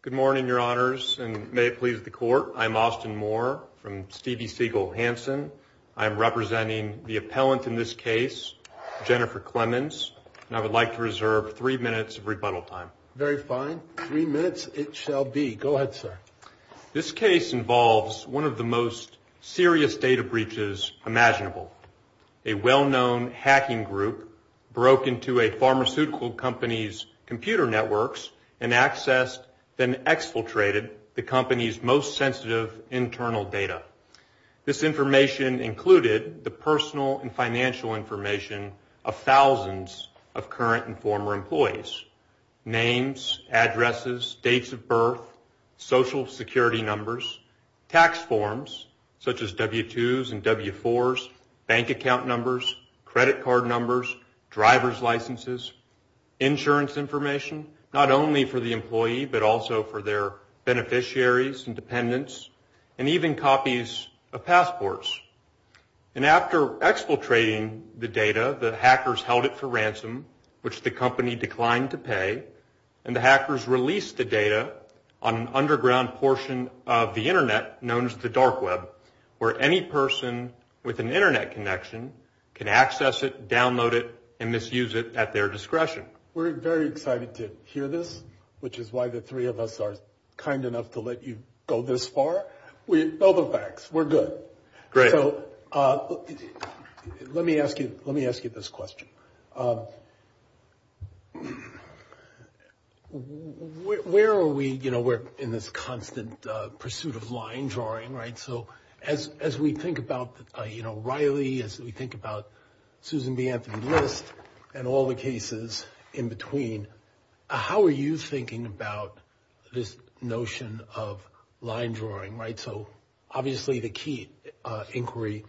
Good morning, Your Honors, and may it please the Court, I am Austin Moore from Stevie Siegel Hanson. I am representing the appellant in this case, Jennifer Clemens, and I would like to reserve three minutes of rebuttal time. Very fine. Three minutes it shall be. Go ahead, sir. This case involves one of the most serious data breaches imaginable. A well-known hacking group broke into a pharmaceutical company's computer networks and accessed, then exfiltrated, the company's most sensitive internal data. This information included the personal and financial information of thousands of current and former employees. Names, addresses, dates of birth, social security numbers, tax forms, such as W-2s and W-4s, bank account numbers, credit card numbers, driver's licenses, insurance information, not only for the employee but also for their beneficiaries and dependents, and even copies of passports. And after exfiltrating the data, the hackers held it for ransom, which the company declined to pay, and the hackers released the data on an underground portion of the Internet known as the dark web, where any person with an Internet connection can access it, download it, and misuse it at their discretion. We're very excited to hear this, which is why the three of us are kind enough to let you go this far. We know the facts. We're good. Great. Let me ask you this question. Where are we in this constant pursuit of line drawing, right? So as we think about Riley, as we think about Susan B. Anthony Lewis and all the cases in between, how are you thinking about this notion of line drawing, right? So obviously the key inquiry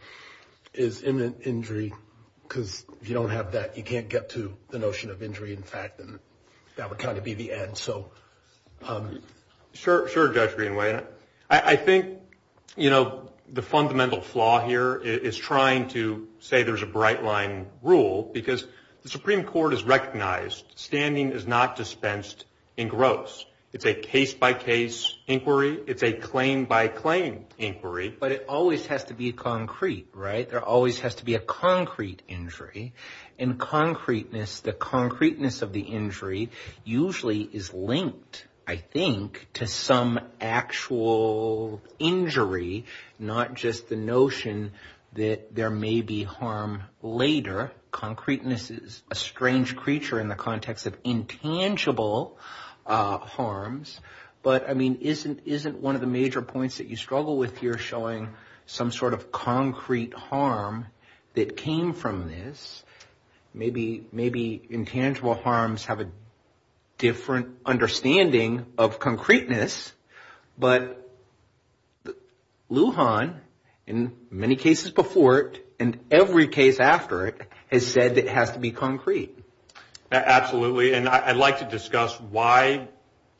is imminent injury, because if you don't have that, you can't get to the notion of injury in fact, and that would kind of be the end. Sure, Jeffrey. I think, you know, the fundamental flaw here is trying to say there's a bright line rule, because the Supreme Court has recognized standing is not dispensed in gross. It's a case-by-case inquiry. It's a claim-by-claim inquiry. But it always has to be concrete, right? There always has to be a concrete injury, and concreteness, the concreteness of the injury usually is linked, I think, to some actual injury, not just the notion that there may be harm later. Concreteness is a strange creature in the context of intangible harms, but I mean, isn't one of the major points that you struggle with here showing some sort of concrete harm that came from this? Maybe intangible harms have a different understanding of concreteness, but Lujan, in many cases before it, and every case after it, has said it has to be concrete. Absolutely, and I'd like to discuss why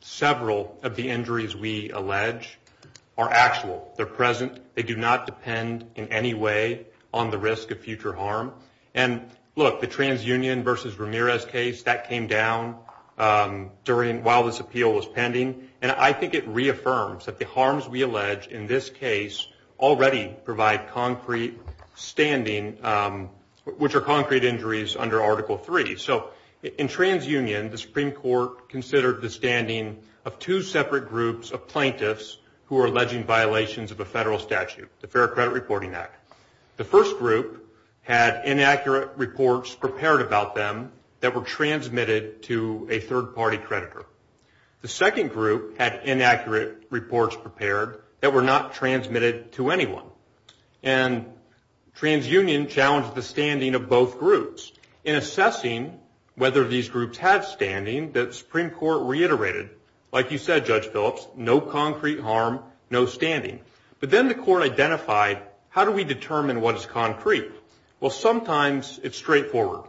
several of the injuries we allege are actual. They're present. They do not depend in any way on the risk of future harm. And look, the TransUnion versus Ramirez case, that came down while this appeal was pending, and I think it reaffirms that the harms we allege in this case already provide concrete standing, which are concrete injuries under Article III. So in TransUnion, the Supreme Court considered the standing of two separate groups of plaintiffs who were alleging violations of a federal statute, the Fair Credit Reporting Act. The first group had inaccurate reports prepared about them that were transmitted to a third-party creditor. The second group had inaccurate reports prepared that were not transmitted to anyone. And TransUnion challenged the standing of both groups in assessing whether these groups had standing that the Supreme Court reiterated. Like you said, Judge Phillips, no concrete harm, no standing. But then the court identified, how do we determine what is concrete? Well, sometimes it's straightforward.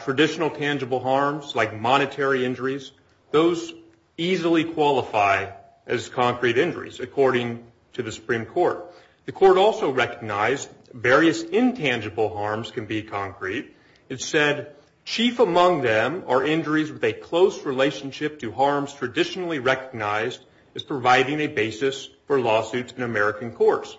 Traditional tangible harms, like monetary injuries, those easily qualify as concrete injuries, according to the Supreme Court. The court also recognized various intangible harms can be concrete. It said, chief among them are injuries with a close relationship to harms traditionally recognized as providing a basis for lawsuits in American courts.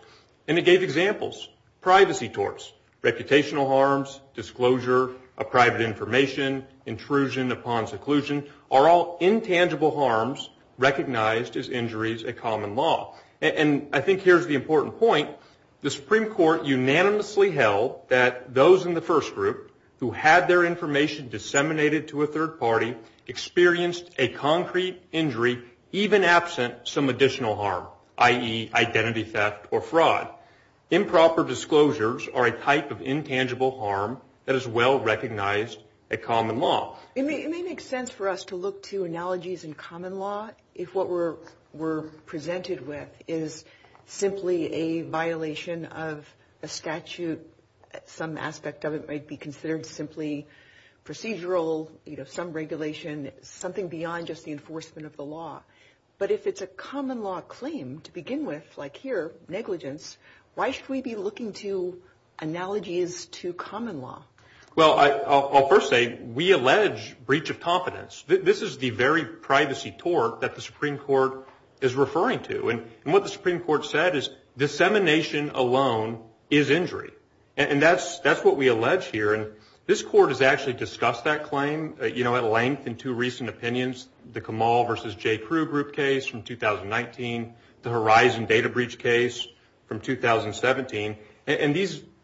And it gave examples, privacy torts, reputational harms, disclosure of private information, intrusion upon seclusion, are all intangible harms recognized as injuries in common law. And I think here's the important point. The Supreme Court unanimously held that those in the first group who had their information disseminated to a third party experienced a concrete injury, even absent some additional harm, i.e., identity theft or fraud. Improper disclosures are a type of intangible harm that is well recognized at common law. It makes sense for us to look to analogies in common law if what we're presented with is simply a violation of a statute. Some aspect of it might be considered simply procedural, some regulation, something beyond just the enforcement of the law. But if it's a common law claim to begin with, like here, negligence, why should we be looking to analogies to common law? Well, I'll first say we allege breach of confidence. This is the very privacy tort that the Supreme Court is referring to. And what the Supreme Court said is dissemination alone is injury. And that's what we allege here. And this court has actually discussed that claim at length in two recent opinions, the Kamal v. J. Pru group case from 2019, the Horizon Data Breach case from 2017. And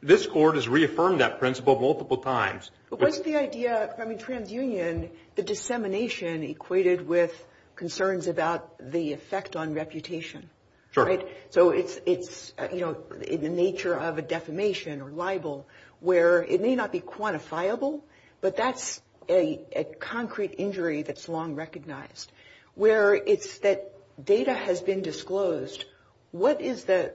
this court has reaffirmed that principle multiple times. But what's the idea from a transunion, the dissemination equated with concerns about the effect on reputation? So it's in the nature of a defamation or libel where it may not be quantifiable, but that's a concrete injury that's long recognized, where it's that data has been disclosed. What is the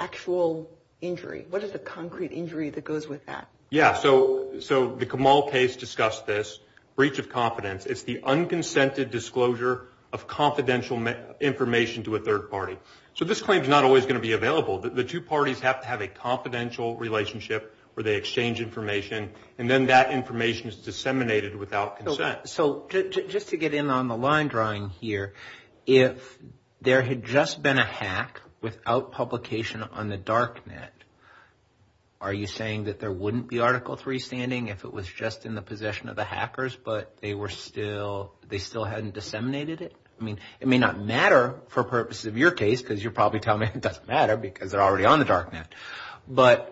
actual injury? What is the concrete injury that goes with that? Yeah, so the Kamal case discussed this breach of confidence. It's the unconsented disclosure of confidential information to a third party. So this claim is not always going to be available. The two parties have to have a confidential relationship where they exchange information, and then that information is disseminated without consent. So just to get in on the line drawing here, if there had just been a hack without publication on the dark net, are you saying that there wouldn't be Article III standing if it was just in the possession of the hackers but they still hadn't disseminated it? I mean, it may not matter for purposes of your case because you're probably telling me it doesn't matter because they're already on the dark net. But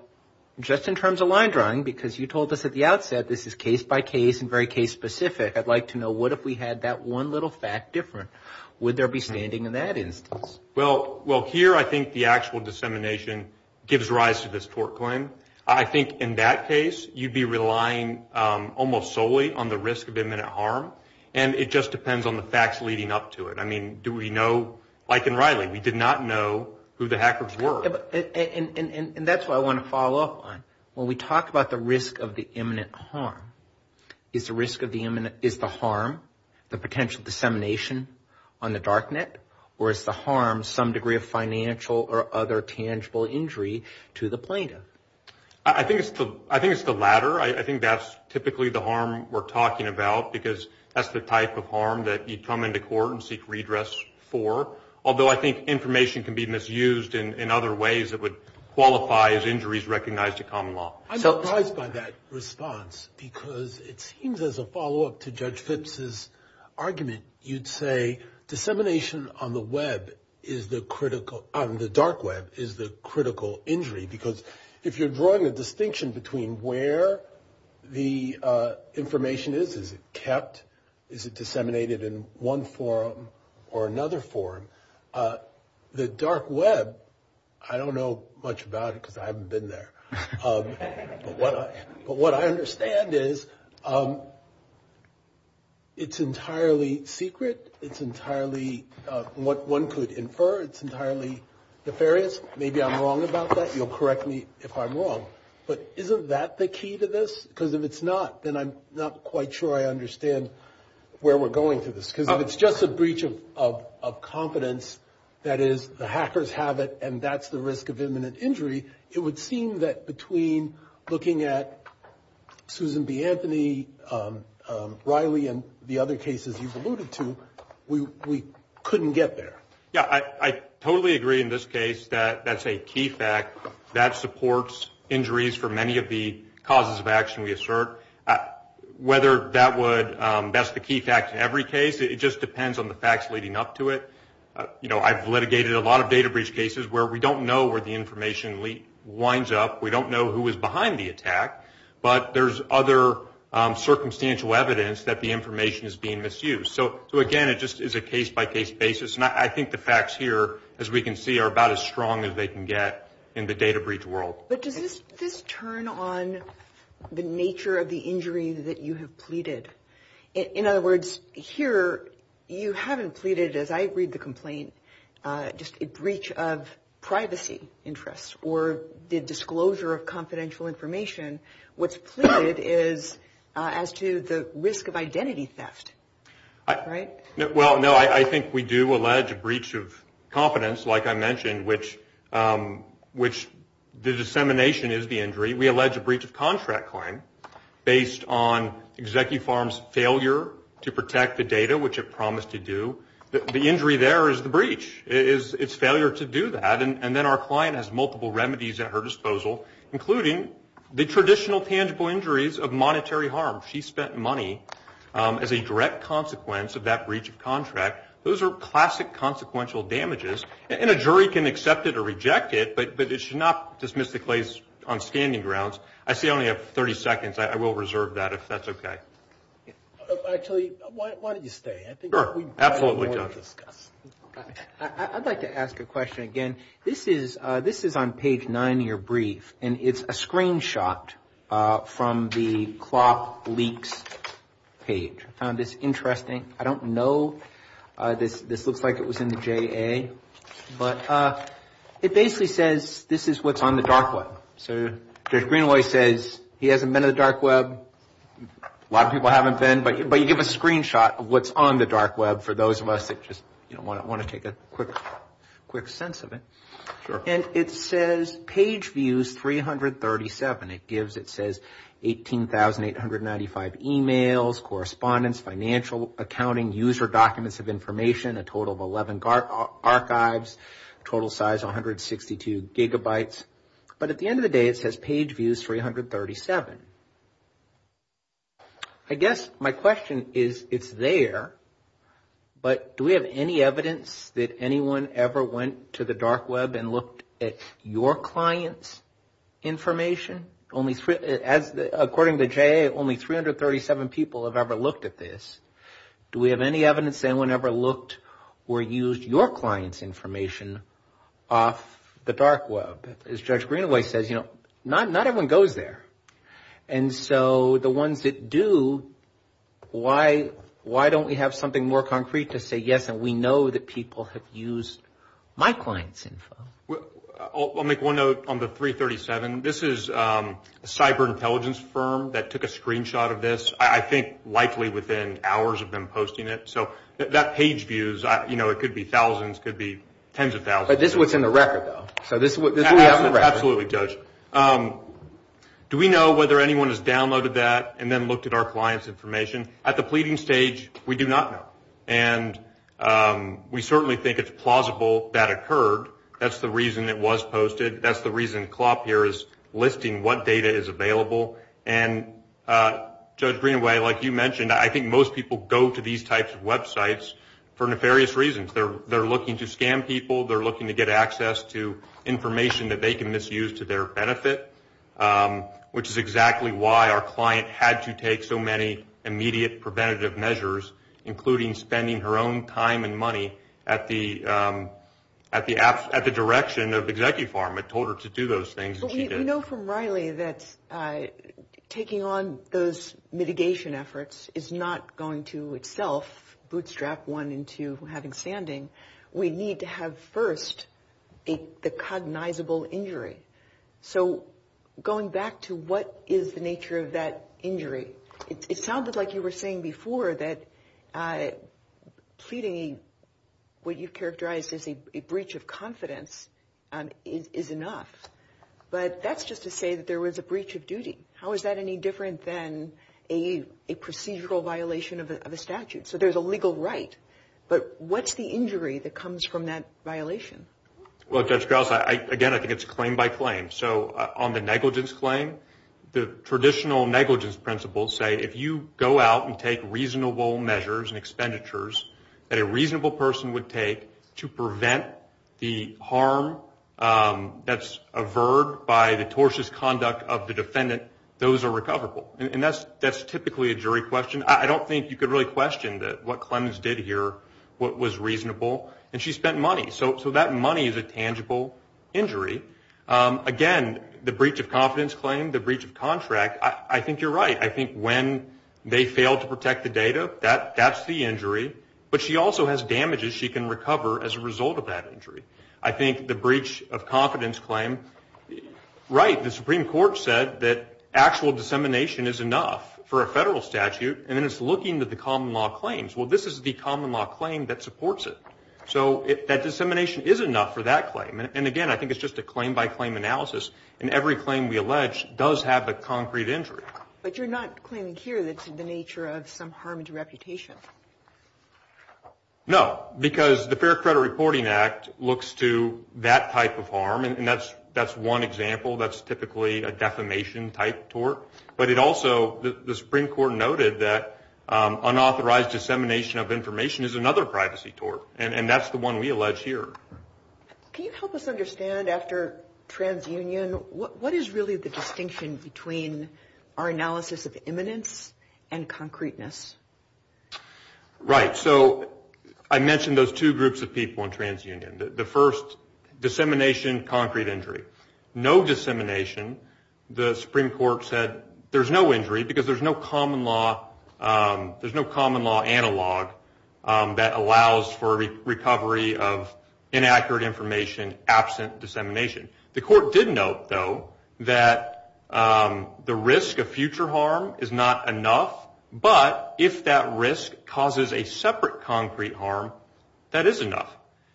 just in terms of line drawing, because you told us at the outset this is case by case and very case specific, I'd like to know what if we had that one little fact different? Would there be standing in that instance? Well, here I think the actual dissemination gives rise to this tort claim. I think in that case you'd be relying almost solely on the risk of imminent harm, and it just depends on the facts leading up to it. I mean, do we know? Like in Riley, we did not know who the hackers were. And that's what I want to follow up on. When we talk about the risk of the imminent harm, is the harm the potential dissemination on the dark net, or is the harm some degree of financial or other tangible injury to the plaintiff? I think it's the latter. I think that's typically the harm we're talking about because that's the type of harm that you'd come into court and seek redress for, although I think information can be misused in other ways that would qualify as injuries recognized in common law. I'm surprised by that response because it seems as a follow-up to Judge Phipps' argument. You'd say dissemination on the dark web is the critical injury because if you're drawing a distinction between where the information is, is it kept, is it disseminated in one form or another form, the dark web, I don't know much about it because I haven't been there. But what I understand is it's entirely secret. It's entirely what one could infer. It's entirely nefarious. Maybe I'm wrong about that. You'll correct me if I'm wrong. But isn't that the key to this? Because if it's not, then I'm not quite sure I understand where we're going with this. Because if it's just a breach of confidence, that is the hackers have it and that's the risk of imminent injury, it would seem that between looking at Susan B. Anthony, Riley, and the other cases you've alluded to, we couldn't get there. Yeah, I totally agree in this case that that's a key fact. That supports injuries for many of the causes of action we assert. Whether that's the key fact in every case, it just depends on the facts leading up to it. I've litigated a lot of data breach cases where we don't know where the information winds up. We don't know who was behind the attack. But there's other circumstantial evidence that the information is being misused. So, again, it just is a case-by-case basis. And I think the facts here, as we can see, are about as strong as they can get in the data breach world. But does this turn on the nature of the injury that you have pleaded? In other words, here you haven't pleaded, as I read the complaint, just a breach of privacy interests or the disclosure of confidential information. What's pleaded is as to the risk of identity theft, right? Well, no, I think we do allege a breach of confidence, like I mentioned, which the dissemination is the injury. We allege a breach of contract claim based on ExecuFarm's failure to protect the data, which it promised to do. The injury there is the breach. It's failure to do that. And then our client has multiple remedies at her disposal, including the traditional tangible injuries of monetary harm. She spent money as a direct consequence of that breach of contract. Those are classic consequential damages. And a jury can accept it or reject it, but it should not dismiss the case on standing grounds. I see I only have 30 seconds. I will reserve that, if that's okay. Actually, why don't you stay? Sure, absolutely. I'd like to ask a question again. This is on page 9 of your brief, and it's a screenshot from the cloth leaks page. I found this interesting. I don't know. This looks like it was in the JA. But it basically says this is what's on the dark web. So Judge Greenaway says he hasn't been to the dark web. A lot of people haven't been, but you give a screenshot of what's on the dark web for those of us that just want to take a quick sense of it. And it says page views 337. And it gives, it says 18,895 emails, correspondence, financial accounting, user documents of information, a total of 11 archives, total size 162 gigabytes. But at the end of the day, it says page views 337. I guess my question is, it's there. But do we have any evidence that anyone ever went to the dark web and looked at your client's information? According to the JA, only 337 people have ever looked at this. Do we have any evidence that anyone ever looked or used your client's information off the dark web? As Judge Greenaway says, you know, not everyone goes there. And so the ones that do, why don't we have something more concrete to say yes, and we know that people have used my client's info? I'll make one note on the 337. This is a cyber intelligence firm that took a screenshot of this. I think likely within hours of them posting it. So that page views, you know, it could be thousands, could be tens of thousands. But this was in the record, though. Absolutely, Judge. Do we know whether anyone has downloaded that and then looked at our client's information? At the pleading stage, we do not know. And we certainly think it's plausible that occurred. That's the reason it was posted. That's the reason CLOP here is listing what data is available. And, Judge Greenaway, like you mentioned, I think most people go to these types of websites for nefarious reasons. They're looking to scam people. They're looking to get access to information that they can misuse to their benefit, which is exactly why our client had to take so many immediate preventative measures, including spending her own time and money at the direction of Executive Farm. It told her to do those things, and she did. We know from Riley that taking on those mitigation efforts is not going to itself bootstrap one into having standing. We need to have first a cognizable injury. So going back to what is the nature of that injury, it sounded like you were saying before that pleading, what you've characterized as a breach of confidence, is enough. But that's just to say that there was a breach of duty. How is that any different than a procedural violation of a statute? So there's a legal right, but what's the injury that comes from that violation? Well, Judge Grouse, again, I think it's claim by claim. So on the negligence claim, the traditional negligence principles say if you go out and take reasonable measures that a reasonable person would take to prevent the harm that's averred by the tortious conduct of the defendant, those are recoverable. And that's typically a jury question. I don't think you could really question what Clemens did here, what was reasonable, and she spent money. So that money is a tangible injury. Again, the breach of confidence claim, the breach of contract, I think you're right. I think when they fail to protect the data, that's the injury. But she also has damages she can recover as a result of that injury. I think the breach of confidence claim, right, the Supreme Court said that actual dissemination is enough for a federal statute, and it's looking at the common law claims. Well, this is the common law claim that supports it. So that dissemination is enough for that claim. And, again, I think it's just a claim by claim analysis, and every claim we allege does have a concrete injury. But you're not claiming here that it's in the nature of some harmed reputation. No, because the Fair Credit Reporting Act looks to that type of harm, and that's one example. That's typically a defamation-type tort. But it also, the Supreme Court noted that unauthorized dissemination of information is another privacy tort, and that's the one we allege here. Can you help us understand, after transunion, what is really the distinction between our analysis of imminence and concreteness? Right. So I mentioned those two groups of people in transunion. The first, dissemination, concrete injury. No dissemination. The Supreme Court said there's no injury because there's no common law analog that allows for recovery of inaccurate information absent dissemination. The court did note, though, that the risk of future harm is not enough, but if that risk causes a separate concrete harm, that is enough.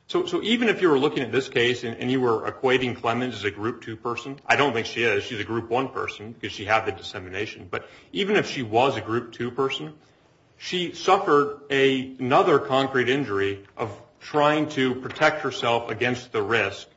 So even if you were looking at this case and you were equating Clemens as a Group 2 person, I don't think she is. She's a Group 1 person because she had the dissemination. But even if she was a Group 2 person, she suffered another concrete injury of trying to protect herself against the risk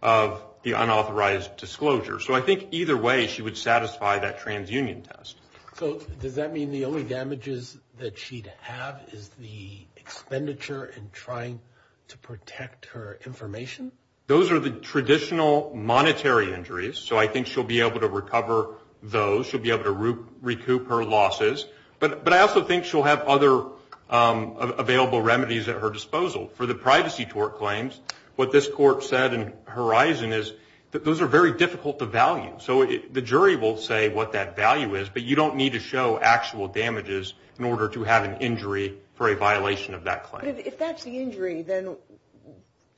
of the unauthorized disclosure. So I think either way, she would satisfy that transunion test. So does that mean the only damages that she'd have is the expenditure in trying to protect her information? Those are the traditional monetary injuries. So I think she'll be able to recover those. She'll be able to recoup her losses. But I also think she'll have other available remedies at her disposal. For the privacy tort claims, what this court said in Horizon is that those are very difficult to value. So the jury will say what that value is, but you don't need to show actual damages in order to have an injury for a violation of that claim. But if that's the injury, then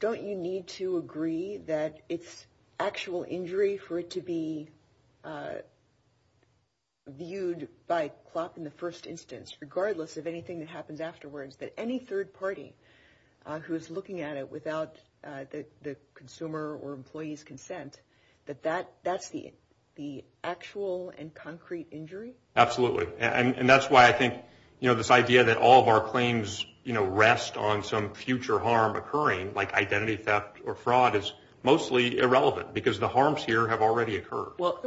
don't you need to agree that it's actual injury for it to be viewed by CLOP in the first instance, regardless of anything that happened afterwards? That any third party who's looking at it without the consumer or employee's consent, that that's the actual and concrete injury? Absolutely. And that's why I think this idea that all of our claims rest on some future harm occurring, like identity theft or fraud, is mostly irrelevant because the harms here have already occurred. Well,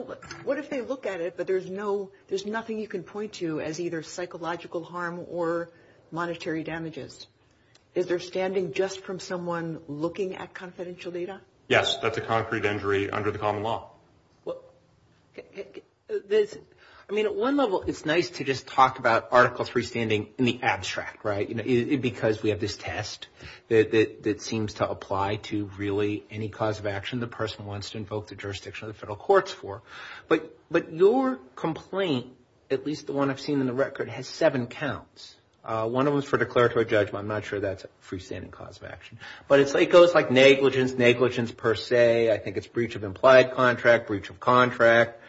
what if they look at it, but there's nothing you can point to as either psychological harm or monetary damages? Is there standing just from someone looking at confidential data? Yes, that's a concrete injury under the common law. I mean, at one level, it's nice to just talk about Article III standing in the abstract, right? Because we have this test that seems to apply to really any cause of action, that the person wants to invoke the jurisdiction of the federal courts for. But your complaint, at least the one I've seen in the record, has seven counts. One of them is for declaratory judgment. I'm not sure that's a freestanding cause of action. But it goes like negligence, negligence per se. I think it's breach of implied contract, breach of contract,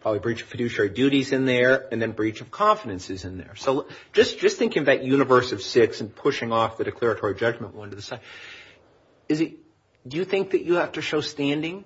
probably breach of fiduciary duties in there, and then breach of confidences in there. So just thinking about universe of six and pushing off the declaratory judgment one to the second, do you think that you have to show standing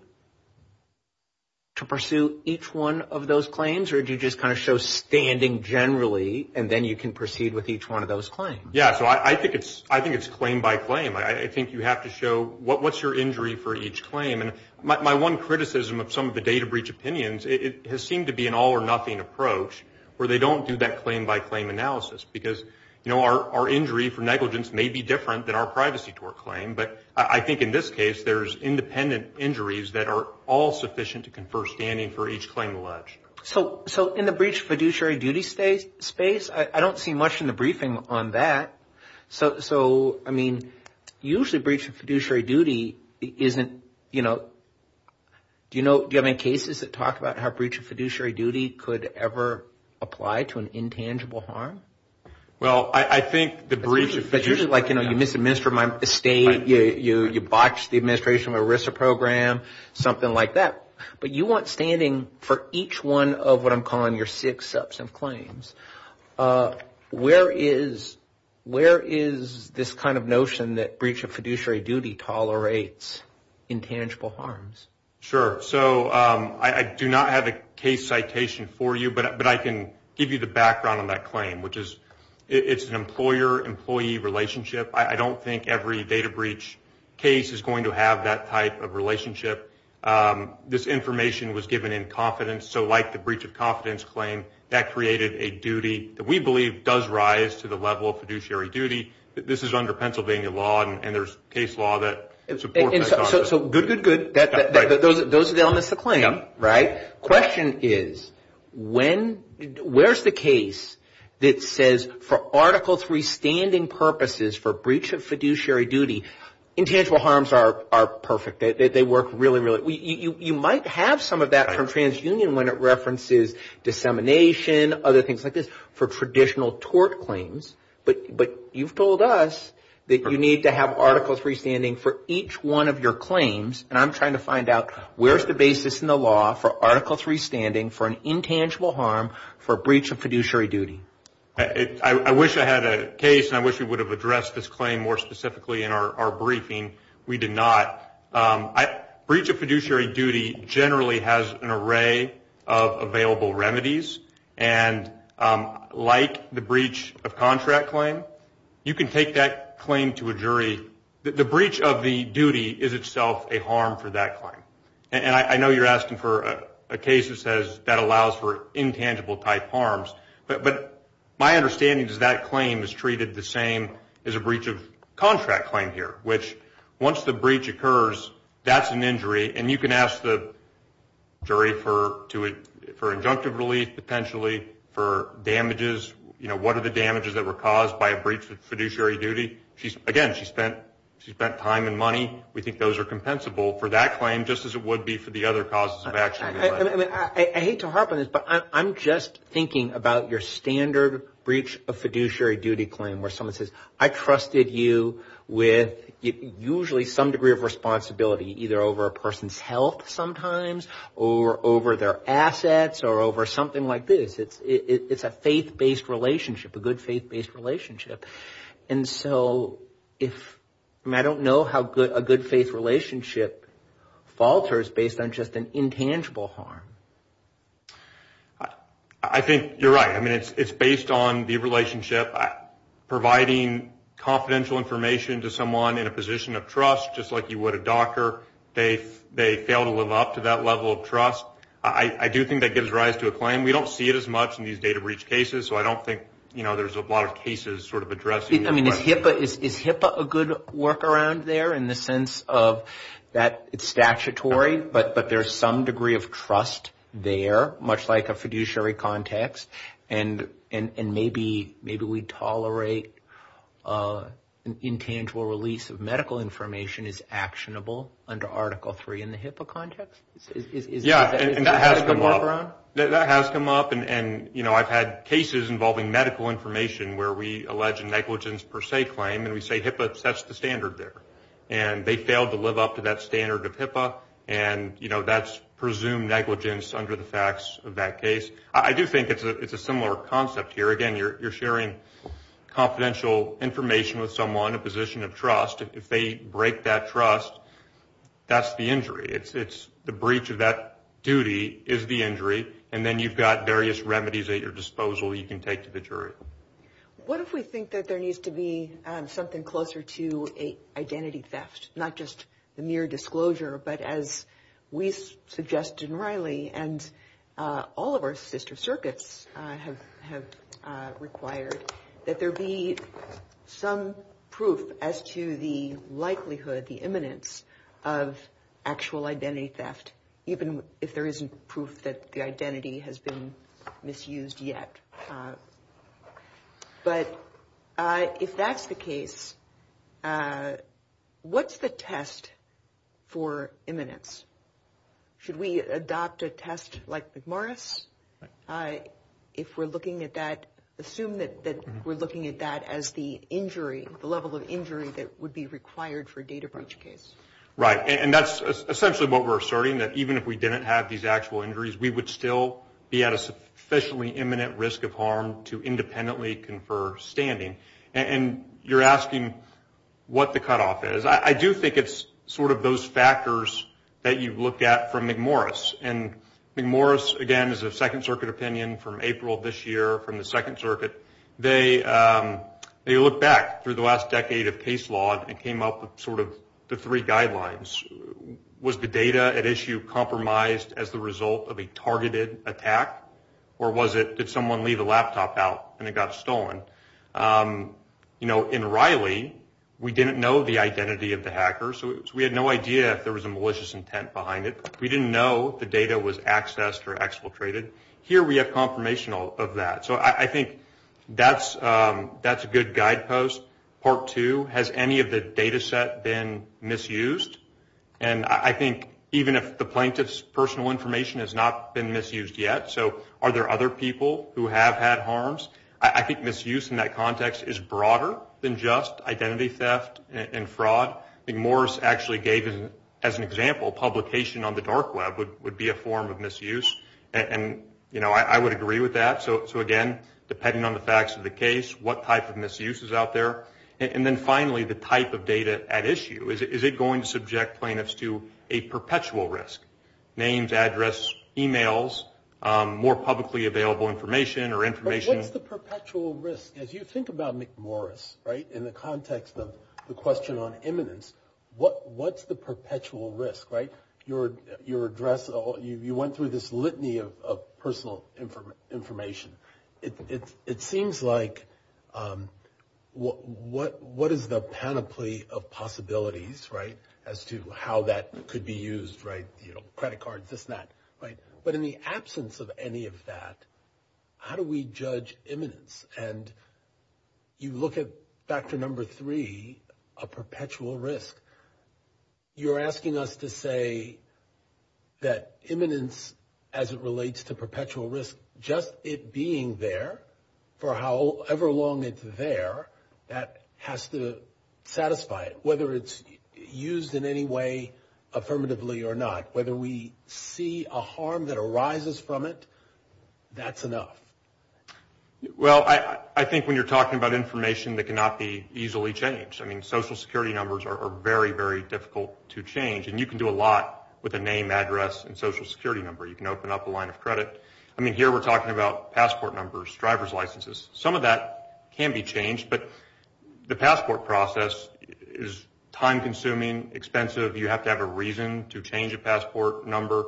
to pursue each one of those claims, or do you just kind of show standing generally, and then you can proceed with each one of those claims? Yeah, so I think it's claim by claim. I think you have to show what's your injury for each claim. And my one criticism of some of the data breach opinions, it has seemed to be an all or nothing approach where they don't do that claim by claim analysis. Because, you know, our injury for negligence may be different than our privacy to our claim, but I think in this case there's independent injuries that are all sufficient to confer standing for each claim alleged. So in the breach of fiduciary duty space, I don't see much in the briefing on that. So, I mean, usually breach of fiduciary duty isn't, you know, Do you have any cases that talk about how breach of fiduciary duty could ever apply to an intangible harm? Well, I think the breach of fiduciary – But usually, like, you know, you misadminister my estate, you botch the administration of a RISA program, something like that. But you want standing for each one of what I'm calling your six sets of claims. Where is this kind of notion that breach of fiduciary duty tolerates intangible harms? Sure. So I do not have a case citation for you, but I can give you the background on that claim, which is it's an employer-employee relationship. I don't think every data breach case is going to have that type of relationship. This information was given in confidence. So, like the breach of confidence claim, that created a duty that we believe does rise to the level of fiduciary duty. This is under Pennsylvania law, and there's case law that supports that. So, good, good, good. Those are elements of the claim, right? Question is, where's the case that says for Article III standing purposes for breach of fiduciary duty, intangible harms are perfect? They work really, really – you might have some of that from TransUnion when it references dissemination, other things like this, for traditional tort claims. But you've told us that you need to have Article III standing for each one of your claims, and I'm trying to find out where's the basis in the law for Article III standing for an intangible harm for breach of fiduciary duty? I wish I had a case, and I wish we would have addressed this claim more specifically in our briefing. We did not. Breach of fiduciary duty generally has an array of available remedies, and like the breach of contract claim, you can take that claim to a jury. The breach of the duty is itself a harm for that claim. And I know you're asking for a case that says that allows for intangible type harms, but my understanding is that claim is treated the same as a breach of contract claim here, which once the breach occurs, that's an injury, and you can ask the jury for injunctive relief potentially, for damages. You know, what are the damages that were caused by a breach of fiduciary duty? Again, she spent time and money. We think those are compensable for that claim just as it would be for the other causes of action. I hate to harp on this, but I'm just thinking about your standard breach of fiduciary duty claim where someone says, I trusted you with usually some degree of responsibility either over a person's health sometimes or over their assets or over something like this. It's a faith-based relationship, a good faith-based relationship. And so I don't know how a good faith relationship falters based on just an intangible harm. I think you're right. I mean, it's based on the relationship providing confidential information to someone in a position of trust, just like you would a doctor. They fail to live up to that level of trust. I do think that gives rise to a claim. We don't see it as much in these data breach cases, so I don't think, you know, there's a lot of cases sort of addressing that. I mean, is HIPAA a good workaround there in the sense of that it's statutory, but there's some degree of trust there, much like a fiduciary context, and maybe we tolerate intangible release of medical information is actionable under Article III in the HIPAA context? Yeah, and that has come up. That has come up, and, you know, I've had cases involving medical information where we allege a negligence per se claim, and we say HIPAA sets the standard there. And they fail to live up to that standard of HIPAA, and, you know, that's presumed negligence under the facts of that case. I do think it's a similar concept here. Again, you're sharing confidential information with someone in a position of trust. If they break that trust, that's the injury. It's the breach of that duty is the injury, and then you've got various remedies at your disposal you can take to the jury. What if we think that there needs to be something closer to an identity theft, not just a mere disclosure, but as we've suggested, and Riley and all of our sister circuits have required, that there be some proof as to the likelihood, the imminence of actual identity theft, even if there isn't proof that the identity has been misused yet. But if that's the case, what's the test for imminence? Should we adopt a test like McMorris? If we're looking at that, assume that we're looking at that as the injury, the level of injury that would be required for a data breach case. And that's essentially what we're asserting, that even if we didn't have these actual injuries, we would still be at a sufficiently imminent risk of harm to independently confer standing. And you're asking what the cutoff is. I do think it's sort of those factors that you've looked at from McMorris. And McMorris, again, is a Second Circuit opinion from April of this year, from the Second Circuit. They look back through the last decade of case law and came up with sort of the three guidelines. Was the data at issue compromised as the result of a targeted attack, or did someone leave a laptop out and it got stolen? In Riley, we didn't know the identity of the hacker, so we had no idea if there was a malicious intent behind it. We didn't know if the data was accessed or exfiltrated. Here we have confirmation of that. So I think that's a good guidepost. Part two, has any of the data set been misused? And I think even if the plaintiff's personal information has not been misused yet, so are there other people who have had harms? I think misuse in that context is broader than just identity theft and fraud. McMorris actually gave, as an example, publication on the dark web would be a form of misuse. And, you know, I would agree with that. So, again, depending on the facts of the case, what type of misuse is out there? And then finally, the type of data at issue. Is it going to subject plaintiffs to a perpetual risk? Names, address, e-mails, more publicly available information or information? What's the perpetual risk? As you think about McMorris, right, in the context of the question on eminence, what's the perpetual risk, right? Your address, you went through this litany of personal information. It seems like what is the panoply of possibilities, right, as to how that could be used, right? You know, credit cards, this and that, right? But in the absence of any of that, how do we judge eminence? And you look at factor number three, a perpetual risk. You're asking us to say that eminence as it relates to perpetual risk, just it being there for however long it's there, that has to satisfy it, whether it's used in any way affirmatively or not. Whether we see a harm that arises from it, that's enough. Well, I think when you're talking about information that cannot be easily changed, I mean, Social Security numbers are very, very difficult to change. And you can do a lot with a name, address, and Social Security number. You can open up a line of credit. I mean, here we're talking about passport numbers, driver's licenses. Some of that can be changed, but the passport process is time-consuming, expensive. You have to have a reason to change a passport number.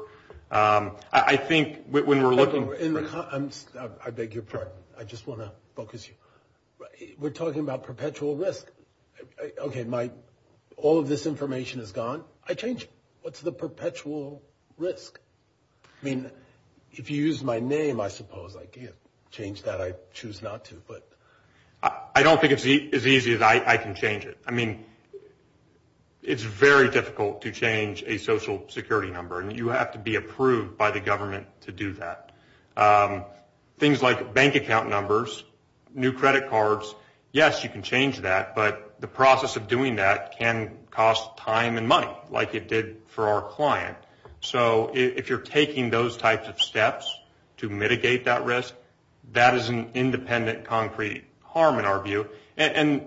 I think when we're looking— I beg your pardon. I just want to focus you. We're talking about perpetual risk. Okay, all of this information is gone. I change it. What's the perpetual risk? I mean, if you use my name, I suppose I can change that. I choose not to, but— I don't think it's as easy as I can change it. I mean, it's very difficult to change a Social Security number, and you have to be approved by the government to do that. Things like bank account numbers, new credit cards, yes, you can change that, but the process of doing that can cost time and money, like it did for our client. So if you're taking those types of steps to mitigate that risk, that is an independent, concrete harm in our view. And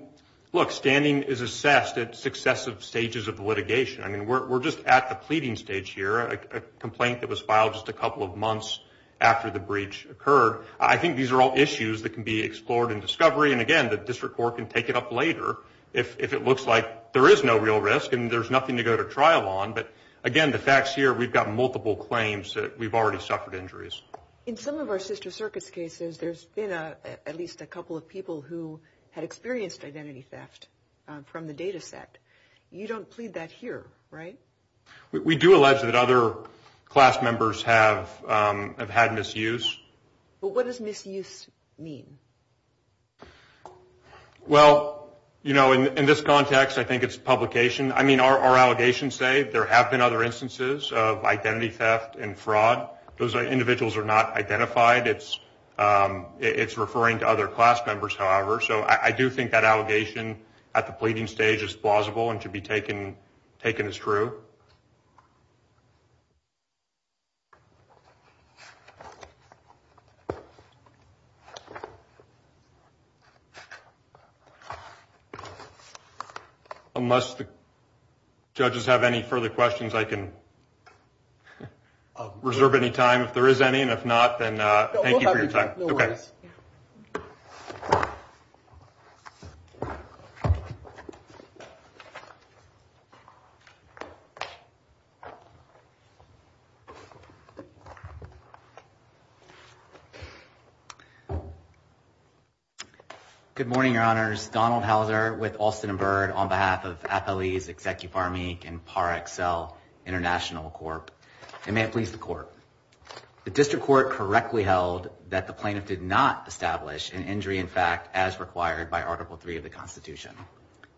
look, standing is assessed at successive stages of litigation. I mean, we're just at the pleading stage here. A complaint that was filed just a couple of months after the breach occurred. I think these are all issues that can be explored in discovery, and again, the district court can take it up later if it looks like there is no real risk and there's nothing to go to trial on. But again, the facts here, we've got multiple claims that we've already suffered injuries. In some of our sister circuits cases, there's been at least a couple of people who had experienced identity theft from the data set. You don't plead that here, right? We do allege that other class members have had misuse. But what does misuse mean? Well, you know, in this context, I think it's publication. I mean, our allegations say there have been other instances of identity theft and fraud. Those individuals are not identified. It's referring to other class members, however. So I do think that allegation at the pleading stage is plausible and can be taken as true. Unless the judges have any further questions, I can reserve any time if there is any, and if not, then thank you for your time. No worries. Good morning, Your Honors. Donald Houser with Alston and Byrd on behalf of FALE's Executive Army and Paracel International Corp. and the Amplice Corp. The district court correctly held that the plaintiff did not establish an injury in fact as required by Article III of the Constitution.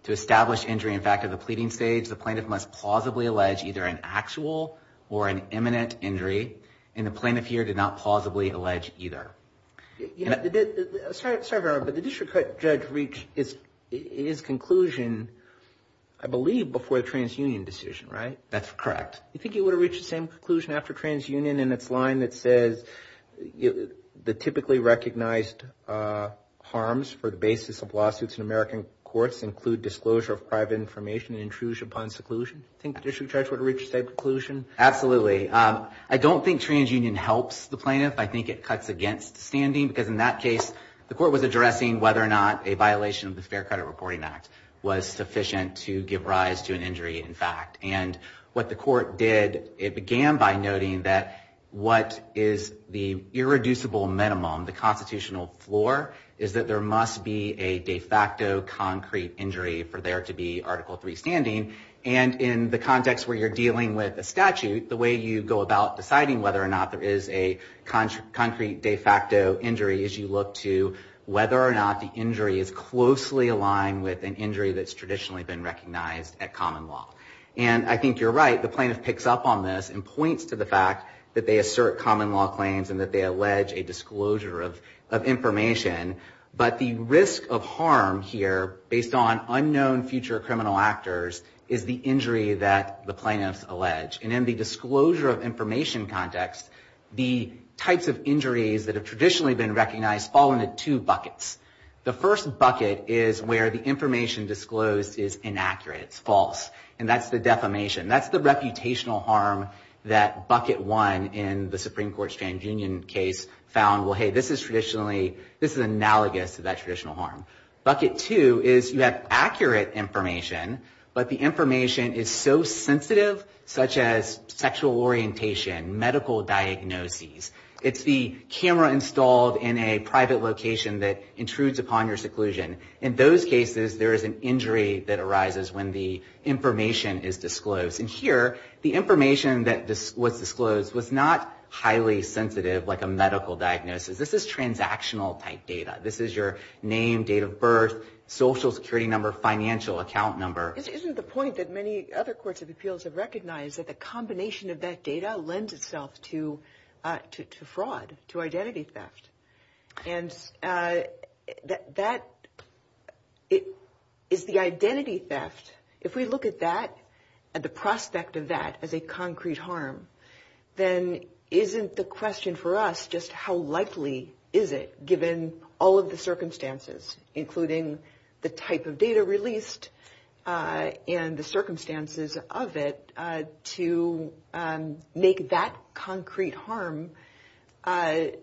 To establish injury in fact at the pleading stage, the plaintiff must plausibly allege either an actual or an imminent injury, and the plaintiff here did not plausibly allege either. Sorry, Your Honor, but the district judge reached his conclusion, I believe, before the transunion decision, right? That's correct. Do you think he would have reached the same conclusion after transunion in its line that says the typically recognized harms for the basis of lawsuits in American courts include disclosure of private information and intrusion upon seclusion? Do you think the district judge would have reached the same conclusion? Absolutely. I don't think transunion helps the plaintiff. I think it cuts against standing because in that case, the court was addressing whether or not a violation of the Spare Credit Reporting Act was sufficient to give rise to an injury in fact. And what the court did, it began by noting that what is the irreducible minimum, the constitutional floor, is that there must be a de facto concrete injury for there to be Article III standing. And in the context where you're dealing with a statute, the way you go about deciding whether or not there is a concrete de facto injury is you look to whether or not the injury is closely aligned with an injury that's traditionally been recognized at common law. And I think you're right. The plaintiff picks up on this and points to the fact that they assert common law claims and that they allege a disclosure of information. But the risk of harm here based on unknown future criminal actors is the injury that the plaintiff alleged. And in the disclosure of information context, the types of injuries that have traditionally been recognized fall into two buckets. The first bucket is where the information disclosed is inaccurate. It's false. And that's the defamation. That's the reputational harm that Bucket 1 in the Supreme Court's Transunion case found, well, hey, this is analogous to that traditional harm. Bucket 2 is you have accurate information, but the information is so sensitive, such as sexual orientation, medical diagnoses. It's the camera installed in a private location that intrudes upon your seclusion. In those cases, there is an injury that arises when the information is disclosed. And here, the information that was disclosed was not highly sensitive like a medical diagnosis. This is transactional type data. This is your name, date of birth, social security number, financial account number. Isn't the point that many other courts of appeals have recognized is that the combination of that data lends itself to fraud, to identity theft. And that is the identity theft. If we look at that and the prospect of that as a concrete harm, then isn't the question for us just how likely is it, given all of the circumstances, including the type of data released and the circumstances of it, to make that concrete harm cognizable,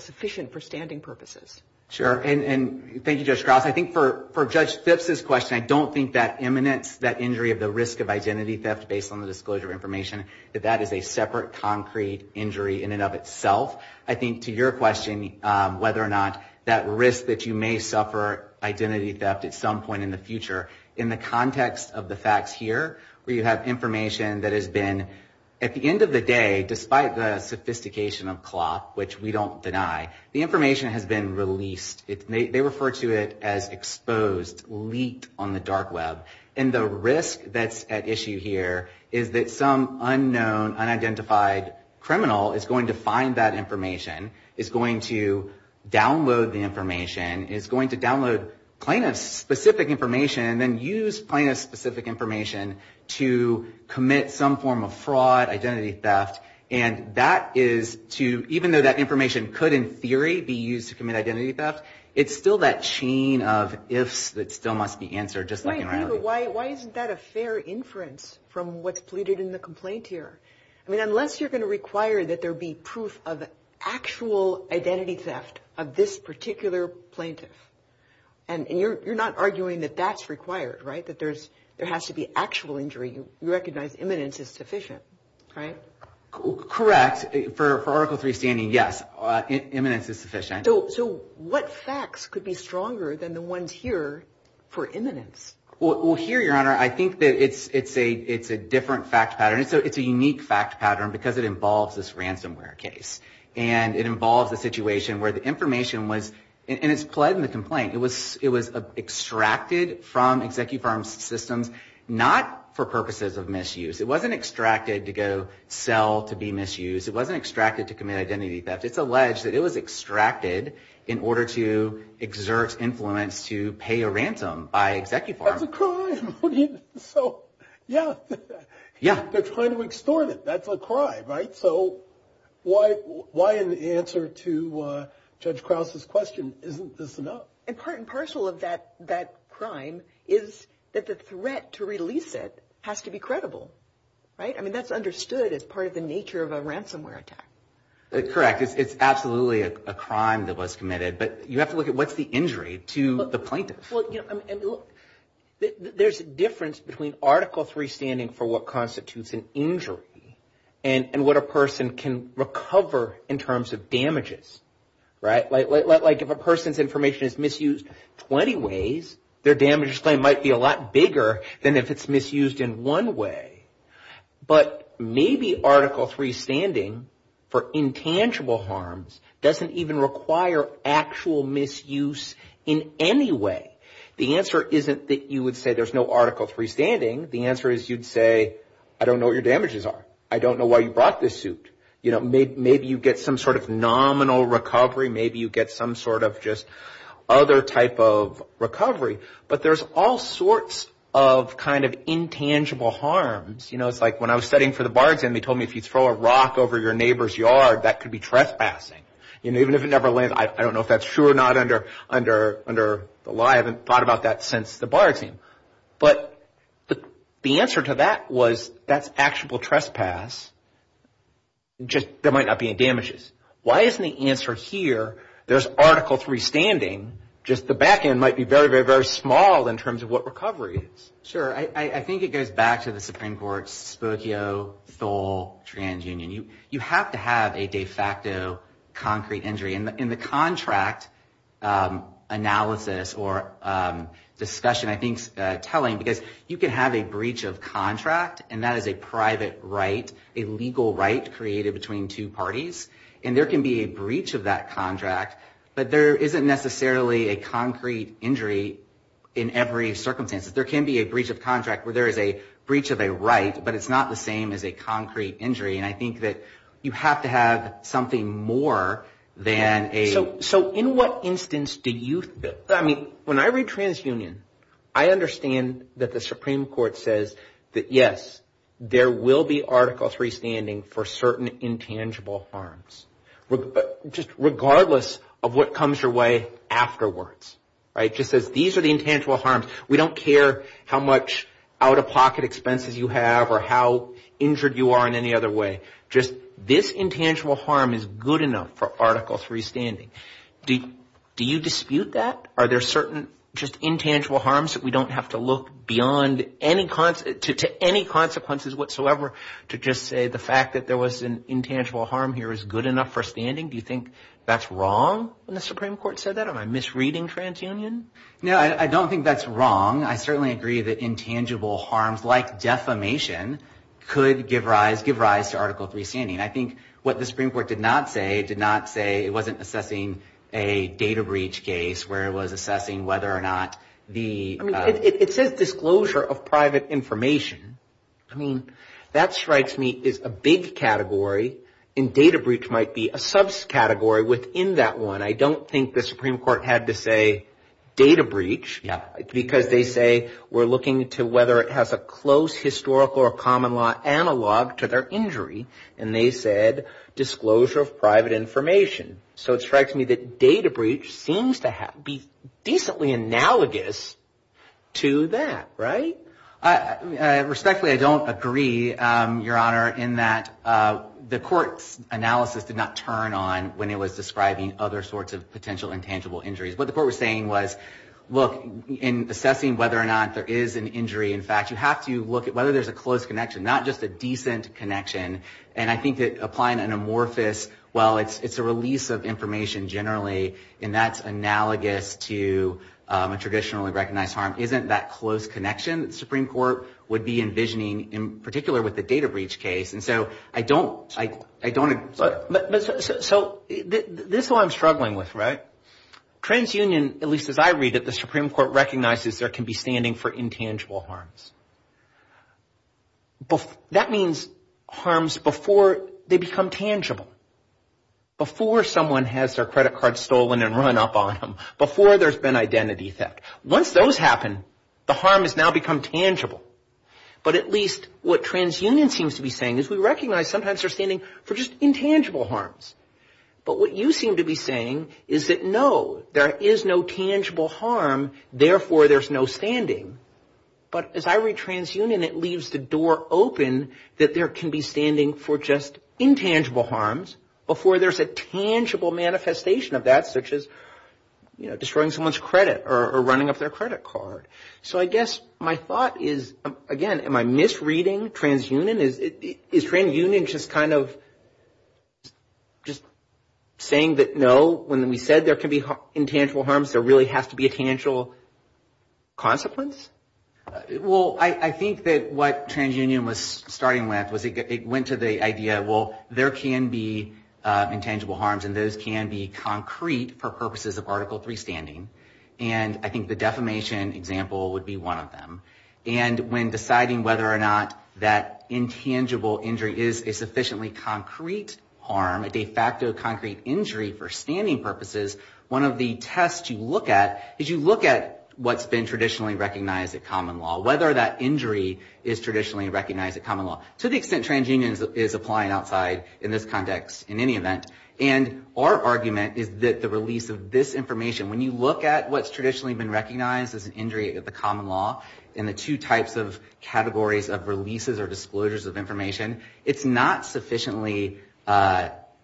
sufficient for standing purposes? Sure. And thank you, Judge Krause. I think for Judge Sift's question, I don't think that imminence, that injury of the risk of identity theft based on the disclosure of information, that that is a separate concrete injury in and of itself. I think to your question, whether or not that risk that you may suffer identity theft at some point in the future, in the context of the facts here, where you have information that has been, at the end of the day, despite the sophistication of clock, which we don't deny, the information has been released. They refer to it as exposed, leaked on the dark web. And the risk that's at issue here is that some unknown, unidentified criminal is going to find that information, is going to download the information, is going to download plaintiff-specific information and then use plaintiff-specific information to commit some form of fraud, identity theft. And that is to, even though that information could, in theory, be used to commit identity theft, it's still that chain of ifs that still must be answered, just like in reality. Why isn't that a fair inference from what's polluted in the complaint here? I mean, unless you're going to require that there be proof of actual identity theft of this particular plaintiff, and you're not arguing that that's required, right, that there has to be actual injury, you recognize imminence is sufficient, right? Correct. For Article III standing, yes, imminence is sufficient. So what facts could be stronger than the ones here for imminence? Well, here, Your Honor, I think that it's a different fact pattern. It's a unique fact pattern because it involves this ransomware case. And it involves a situation where the information was, and it's pled in the complaint, it was extracted from execu-farm systems not for purposes of misuse. It wasn't extracted to go sell to be misused. It wasn't extracted to commit identity theft. It's alleged that it was extracted in order to exert influence to pay a ransom by execu-farm. That's a crime. So, yeah. Yeah. They're trying to extort it. That's a crime, right? So why in the answer to Judge Krause's question, isn't this enough? And part and parcel of that crime is that the threat to release it has to be credible, right? I mean, that's understood as part of the nature of a ransomware attack. Correct. It's absolutely a crime that was committed. But you have to look at what's the injury to the plaintiff. There's a difference between Article III standing for what constitutes an injury and what a person can recover in terms of damages, right? Like if a person's information is misused 20 ways, their damage claim might be a lot bigger than if it's misused in one way. But maybe Article III standing for intangible harms doesn't even require actual misuse in any way. The answer isn't that you would say there's no Article III standing. The answer is you'd say, I don't know what your damages are. I don't know why you brought this suit. Maybe you get some sort of nominal recovery. But there's all sorts of kind of intangible harms. You know, it's like when I was studying for the bargain, they told me if you throw a rock over your neighbor's yard, that could be trespassing. And even if it never lands, I don't know if that's true or not under the law. I haven't thought about that since the bargain. But the answer to that was that's actual trespass. Just there might not be any damages. Why isn't the answer here, there's Article III standing, just the back end might be very, very, very small in terms of what recovery is. Sure. I think it goes back to the Supreme Court's Spokio, Thole, TransUnion. You have to have a de facto concrete injury. And the contract analysis or discussion I think is telling because you can have a breach of contract, and that is a private right, a legal right created between two parties. And there can be a breach of that contract, but there isn't necessarily a concrete injury in every circumstance. There can be a breach of contract where there is a breach of a right, but it's not the same as a concrete injury. And I think that you have to have something more than a – So in what instance do you – I mean, when I read TransUnion, I understand that the Supreme Court says that yes, there will be Article III standing for certain intangible harms. Just regardless of what comes your way afterwards. It just says these are the intangible harms. We don't care how much out-of-pocket expenses you have or how injured you are in any other way. Just this intangible harm is good enough for Article III standing. Do you dispute that? Are there certain just intangible harms that we don't have to look beyond to any consequences whatsoever to just say the fact that there was an intangible harm here is good enough for standing? Do you think that's wrong when the Supreme Court said that? Am I misreading TransUnion? No, I don't think that's wrong. I certainly agree that intangible harms like defamation could give rise to Article III standing. I think what the Supreme Court did not say, it did not say it wasn't assessing a data breach case where it was assessing whether or not the – I mean, it says disclosure of private information. I mean, that strikes me as a big category and data breach might be a subcategory within that one. I don't think the Supreme Court had to say data breach because they say we're looking to whether it has a close historical or common law analog to their injury and they said disclosure of private information. So it strikes me that data breach seems to be decently analogous to that, right? Respectfully, I don't agree, Your Honor, in that the court's analysis did not turn on when it was describing other sorts of potential intangible injuries. What the court was saying was, look, in assessing whether or not there is an injury, in fact, you have to look at whether there's a close connection, not just a decent connection. And I think that applying an amorphous, well, it's a release of information generally and that's analogous to a traditionally recognized harm isn't that close connection that the Supreme Court would be envisioning in particular with the data breach case. And so I don't – So this is what I'm struggling with, right? TransUnion, at least as I read it, the Supreme Court recognizes there can be standing for intangible harms. That means harms before they become tangible. Before someone has their credit card stolen and run up on them. Before there's been identity theft. Once those happen, the harm has now become tangible. But at least what TransUnion seems to be saying is we recognize sometimes they're standing for just intangible harms. But what you seem to be saying is that, no, there is no tangible harm, therefore there's no standing. But as I read TransUnion, it leaves the door open that there can be standing for just intangible harms before there's a tangible manifestation of that, such as destroying someone's credit or running up their credit card. So I guess my thought is, again, am I misreading TransUnion? Is TransUnion just kind of saying that, no, when we said there could be intangible harms, there really has to be a tangible consequence? Well, I think that what TransUnion was starting with was it went to the idea, well, there can be intangible harms and those can be concrete for purposes of Article III standing. And I think the defamation example would be one of them. And when deciding whether or not that intangible injury is a sufficiently concrete harm, a de facto concrete injury for standing purposes, one of the tests you look at is you look at what's been traditionally recognized at common law, whether that injury is traditionally recognized at common law, to the extent TransUnion is applying outside in this context in any event. And our argument is that the release of this information, when you look at what's traditionally been recognized as an injury at the common law in the two types of categories of releases or disclosures of information, it's not sufficiently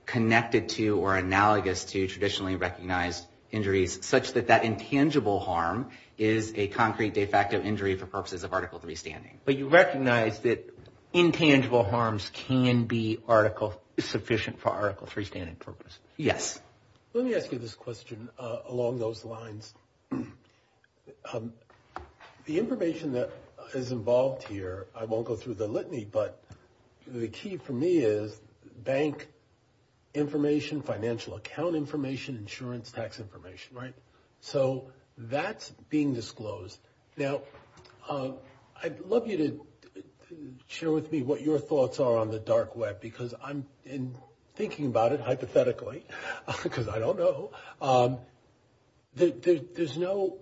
connected to or analogous to traditionally recognized injuries such that that intangible harm is a concrete de facto injury for purposes of Article III standing. But you recognize that intangible harms can be article sufficient for Article III standing purposes? Yes. Let me ask you this question along those lines. The information that is involved here, I won't go through the litany, but the key for me is bank information, financial account information, insurance tax information, right? So that's being disclosed. Now, I'd love you to share with me what your thoughts are on the dark web because I'm thinking about it hypothetically because I don't know. There's no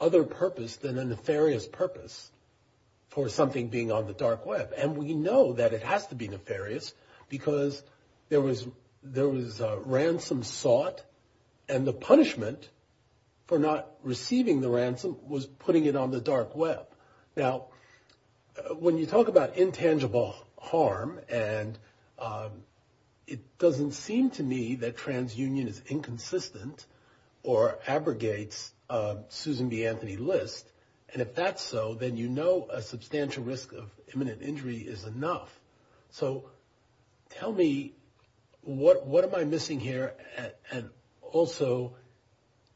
other purpose than a nefarious purpose for something being on the dark web, and we know that it has to be nefarious because there was ransom sought and the punishment for not receiving the ransom was putting it on the dark web. Now, when you talk about intangible harm, and it doesn't seem to me that transunion is inconsistent or abrogates Susan B. Anthony List, and if that's so, then you know a substantial risk of imminent injury is enough. So tell me, what am I missing here? Also,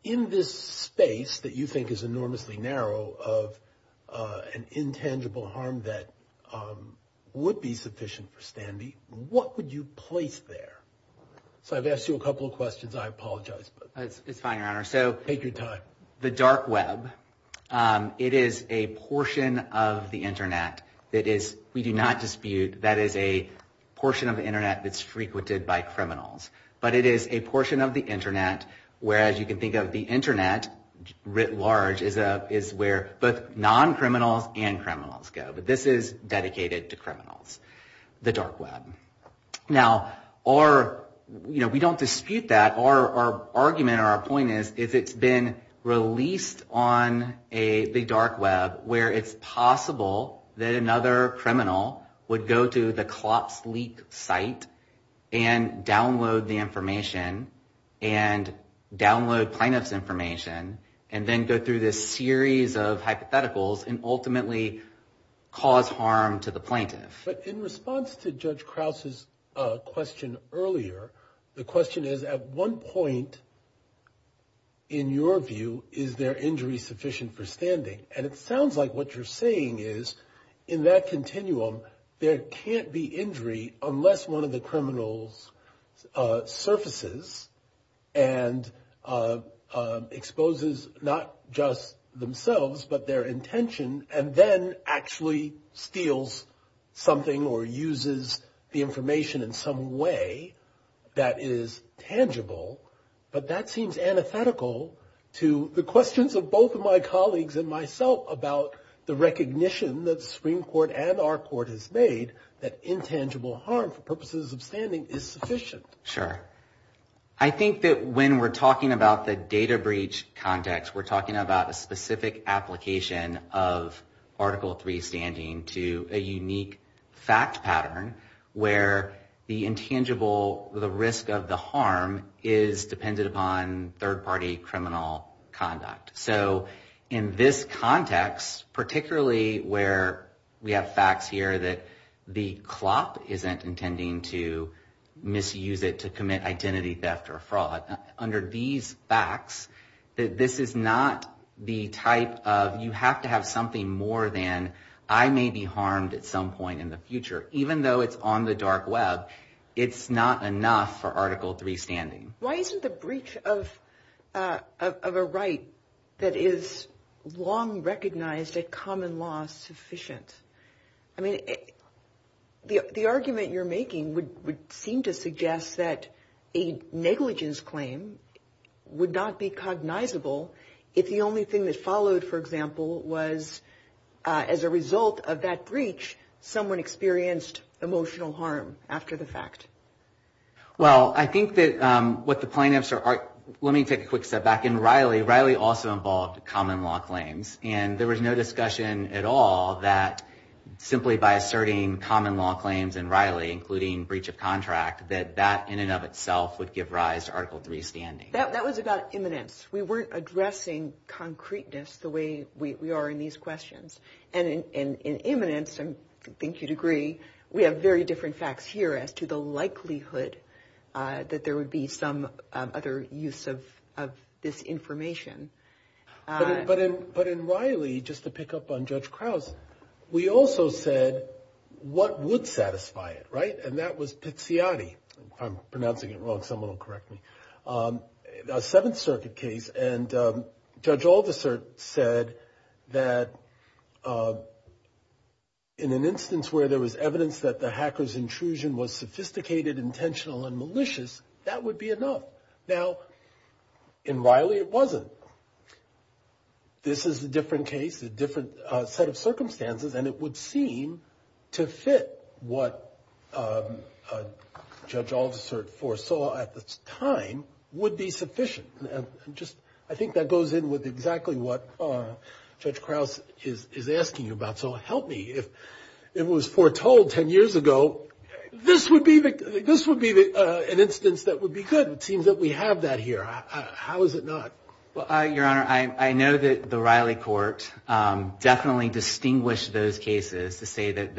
in this space that you think is enormously narrow of an intangible harm that would be sufficient for standing, what would you place there? So I've asked you a couple of questions. I apologize. It's fine, Your Honor. Take your time. The dark web, it is a portion of the Internet that we do not dispute. That is a portion of the Internet that's frequented by criminals, but it is a portion of the Internet where, as you can think of, the Internet writ large is where both non-criminals and criminals go, but this is dedicated to criminals, the dark web. Now, we don't dispute that. Our argument or our point is it's been released on the dark web where it's possible that another criminal would go to the CLOPS leak site and download the information and download plaintiff's information and then go through this series of hypotheticals and ultimately cause harm to the plaintiff. But in response to Judge Krause's question earlier, the question is, at one point, in your view, is there injury sufficient for standing? And it sounds like what you're saying is, in that continuum, there can't be injury unless one of the criminals surfaces and exposes not just themselves but their intention and then actually steals something or uses the information in some way that is tangible. But that seems antithetical to the questions of both of my colleagues and myself about the recognition that the Supreme Court and our court has made that intangible harm for purposes of standing is sufficient. Sure. I think that when we're talking about the data breach context, we're talking about a specific application of Article III standing to a unique fact pattern where the intangible risk of the harm is dependent upon third-party criminal conduct. So in this context, particularly where we have facts here that the CLOP isn't intending to misuse it to commit identity theft or fraud, under these facts, this is not the type of, you have to have something more than, I may be harmed at some point in the future, even though it's on the dark web, it's not enough for Article III standing. Why isn't the breach of a right that is long recognized as common law sufficient? I mean, the argument you're making would seem to suggest that a negligence claim would not be cognizable if the only thing that followed, for example, was as a result of that breach, someone experienced emotional harm after the fact. Well, I think that what the plaintiffs are, let me take a quick step back. In Riley, Riley also involved common law claims, and there was no discussion at all that simply by asserting common law claims in Riley, including breach of contract, that that in and of itself would give rise to Article III standing. That was about imminence. We weren't addressing concreteness the way we are in these questions. And in imminence, I think you'd agree, we have very different facts here as to the likelihood that there would be some other use of this information. But in Riley, just to pick up on Judge Krause, we also said what would satisfy it, right? And that was Tiziati. I'm pronouncing it wrong. Someone will correct me. A Seventh Circuit case, and Judge Aldersert said that in an instance where there was evidence that the hacker's intrusion was sophisticated, intentional, and malicious, that would be enough. Now, in Riley, it wasn't. This is a different case, a different set of circumstances, and it would seem to fit what Judge Aldersert foresaw at the time would be sufficient. I think that goes in with exactly what Judge Krause is asking about. So help me, if it was foretold ten years ago, this would be an instance that would be good. It seems that we have that here. How is it not? Your Honor, I know that the Riley Court definitely distinguished those cases to say that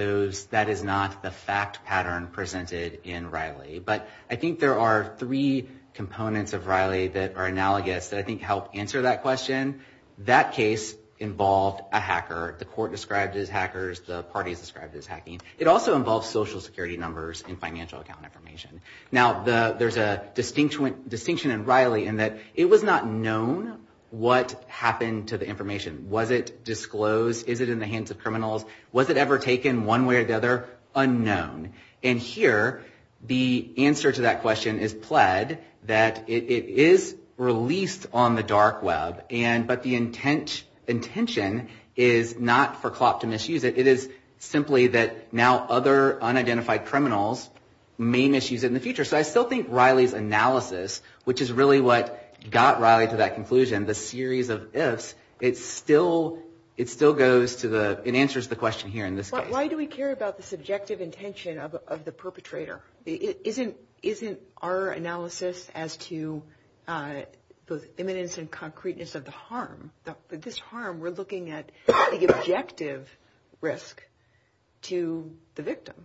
that is not the fact pattern presented in Riley. But I think there are three components of Riley that are analogous that I think help answer that question. That case involved a hacker. The Court described it as hackers. The parties described it as hacking. It also involves Social Security numbers and financial account information. Now, there's a distinction in Riley in that it was not known what happened to the information. Was it disclosed? Is it in the hands of criminals? Was it ever taken one way or the other? Unknown. And here, the answer to that question is pled that it is released on the dark web, but the intention is not for CLOP to misuse it. It is simply that now other unidentified criminals may misuse it in the future. So I still think Riley's analysis, which is really what got Riley to that conclusion, the series of ifs, it still goes to the – it answers the question here in this case. But why do we care about the subjective intention of the perpetrator? Isn't our analysis as to the eminence and concreteness of the harm? We're looking at the objective risk to the victim,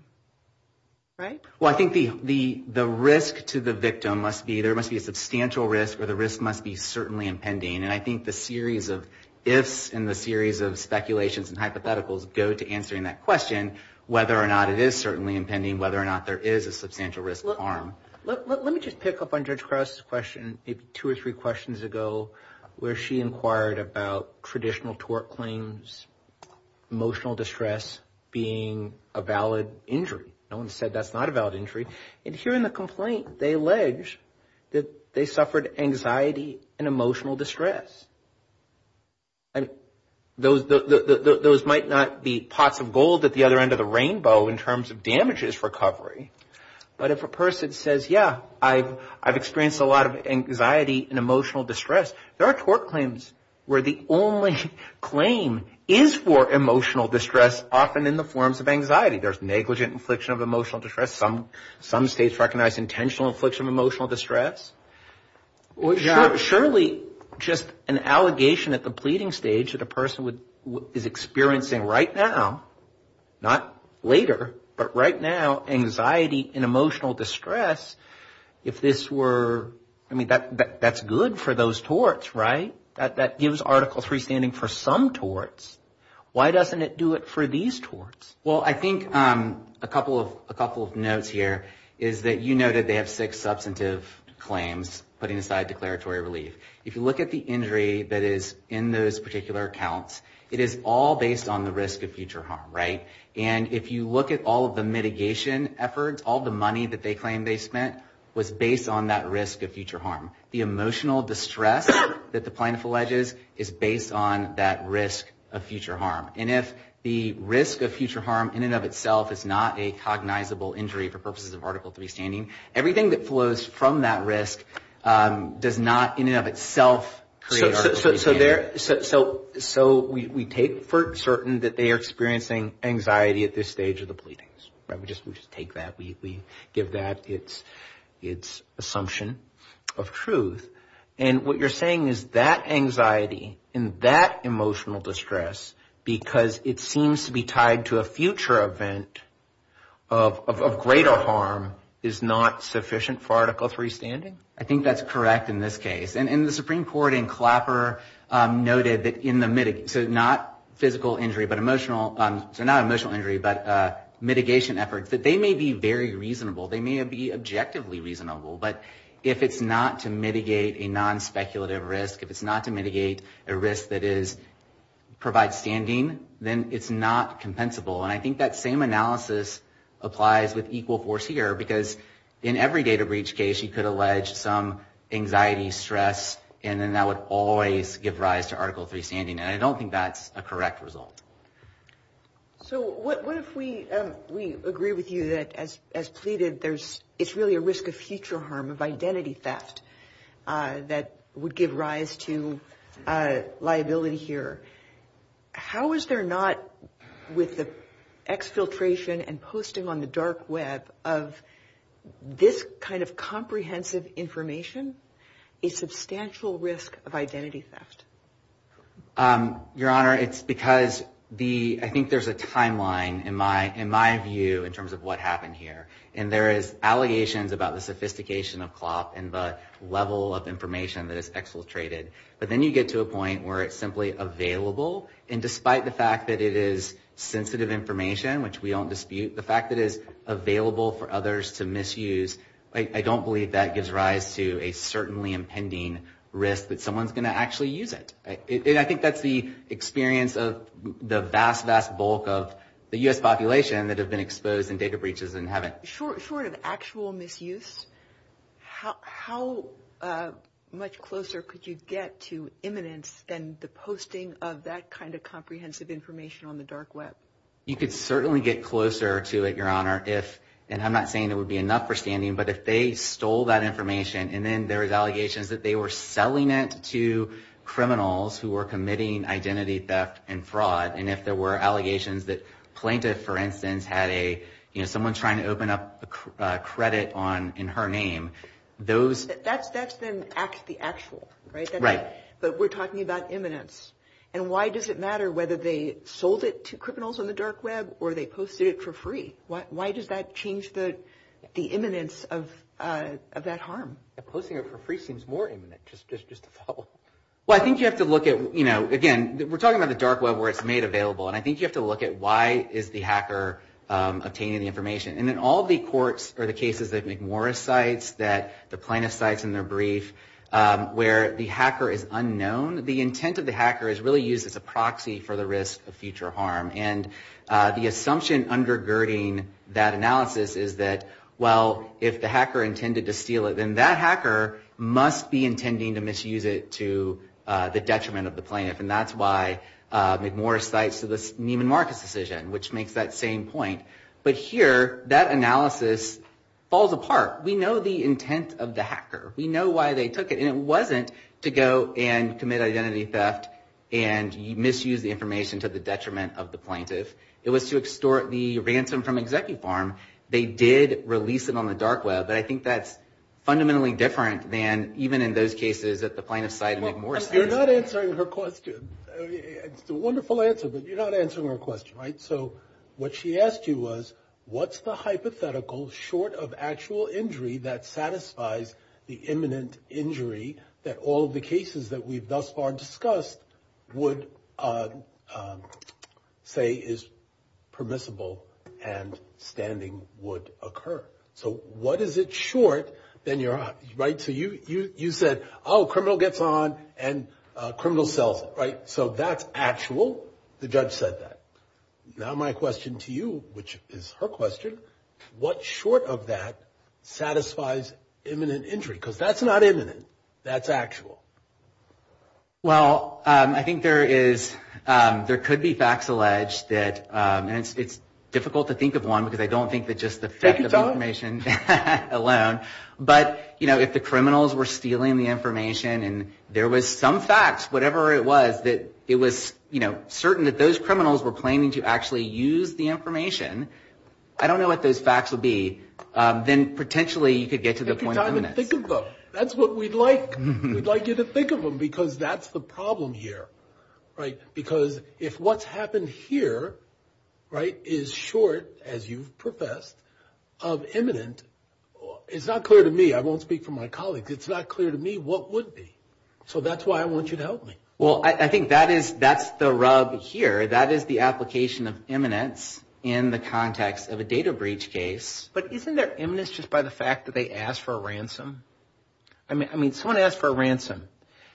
right? Well, I think the risk to the victim must be – there must be a substantial risk or the risk must be certainly impending. And I think the series of ifs and the series of speculations and hypotheticals go to answering that question, whether or not it is certainly impending, whether or not there is a substantial risk of harm. Let me just pick up on Judge Cross's question two or three questions ago where she inquired about traditional tort claims, emotional distress being a valid injury. No one said that's not a valid injury. And here in the complaint, they allege that they suffered anxiety and emotional distress. And those might not be pots of gold at the other end of the rainbow in terms of damages recovery, but if a person says, yeah, I've experienced a lot of anxiety and emotional distress, there are tort claims where the only claim is for emotional distress often in the forms of anxiety. There's negligent infliction of emotional distress. Some states recognize intentional infliction of emotional distress. Surely just an allegation at the pleading stage that a person is experiencing right now, not later, but right now anxiety and emotional distress, if this were – I mean, that's good for those torts, right? That gives Article III standing for some torts. Why doesn't it do it for these torts? Well, I think a couple of notes here is that you know that they have six substantive claims putting aside declaratory relief. If you look at the injury that is in those particular accounts, it is all based on the risk of future harm, right? And if you look at all of the mitigation efforts, all the money that they claim they spent was based on that risk of future harm. The emotional distress that the plaintiff alleges is based on that risk of future harm. And if the risk of future harm in and of itself is not a cognizable injury for purposes of Article III standing, everything that flows from that risk does not in and of itself create Article III standing. So we take for certain that they are experiencing anxiety at this stage of the pleadings, right? We just take that. We give that its assumption of truth. And what you're saying is that anxiety and that emotional distress, because it seems to be tied to a future event of greater harm, is not sufficient for Article III standing? I think that's correct in this case. And the Supreme Court in Clapper noted that in the mitigation, so not emotional injury, but mitigation efforts, that they may be very reasonable. They may be objectively reasonable. But if it's not to mitigate a non-speculative risk, if it's not to mitigate a risk that provides standing, then it's not compensable. And I think that same analysis applies with equal force here, because in every data breach case you could allege some anxiety, stress, and then that would always give rise to Article III standing. And I don't think that's a correct result. So what if we agree with you that, as stated, it's really a risk of future harm, of identity theft, that would give rise to liability here. How is there not, with the exfiltration and posting on the dark web of this kind of comprehensive information, a substantial risk of identity theft? Your Honor, it's because I think there's a timeline in my view in terms of what happened here. And there is allegations about the sophistication of cloth and the level of information that is exfiltrated. But then you get to a point where it's simply available. And despite the fact that it is sensitive information, which we don't dispute, the fact that it is available for others to misuse, I don't believe that gives rise to a certainly impending risk that someone's going to actually use it. And I think that's the experience of the vast, vast bulk of the U.S. population that have been exposed in data breaches and haven't. Short of actual misuse, how much closer could you get to imminence than the posting of that kind of comprehensive information on the dark web? You could certainly get closer to it, Your Honor, if, and I'm not saying it would be enough for standing, but if they stole that information and then there was allegations that they were selling it to criminals who were committing identity theft and fraud, and if there were allegations that plaintiff, for instance, had a, you know, someone trying to open up credit in her name, those. That's been the actual, right? Right. But we're talking about imminence. And why does it matter whether they sold it to criminals on the dark web or they posted it for free? Why does that change the imminence of that harm? Posting it for free seems more imminent, just to follow up. Well, I think you have to look at, you know, again, we're talking about the dark web where it's made available, and I think you have to look at why is the hacker obtaining the information. And in all the courts or the cases that McMorris cites, that the plaintiff cites in their brief, where the hacker is unknown, the intent of the hacker is really used as a proxy for the risk of future harm. And the assumption undergirding that analysis is that, well, if the hacker intended to steal it, then that hacker must be intending to misuse it to the detriment of the plaintiff. And that's why McMorris cites the Neiman Marcus decision, which makes that same point. But here, that analysis falls apart. We know the intent of the hacker. We know why they took it, and it wasn't to go and commit identity theft and misuse the information to the detriment of the plaintiff. It was to extort the ransom from ExecuFarm. They did release it on the dark web, but I think that's fundamentally different than even in those cases that the plaintiff cites McMorris. You're not answering her question. It's a wonderful answer, but you're not answering her question, right? So what she asked you was, what's the hypothetical short of actual injury that satisfies the imminent injury that all of the cases that we've thus far discussed would say is permissible and standing would occur? So what is it short, then you're on, right? So you said, oh, criminal gets on and criminal sells it, right? So that's actual. The judge said that. Now my question to you, which is her question, what short of that satisfies imminent injury? Because that's not imminent, that's actual. Well, I think there could be facts alleged, and it's difficult to think of one, because I don't think that just the theft of information alone, but if the criminals were stealing the information and there was some facts, whatever it was, that it was certain that those criminals were planning to actually use the information, I don't know what those facts would be, then potentially you could get to the point of imminent. I can think of both. That's what we'd like you to think of them, because that's the problem here, right? Because if what's happened here, right, is short, as you've professed, of imminent, it's not clear to me. I won't speak for my colleagues. It's not clear to me what would be. So that's why I want you to help me. Well, I think that's the rub here. That is the application of imminent in the context of a data breach case. But isn't there imminence just by the fact that they ask for a ransom? I mean, someone asks for a ransom.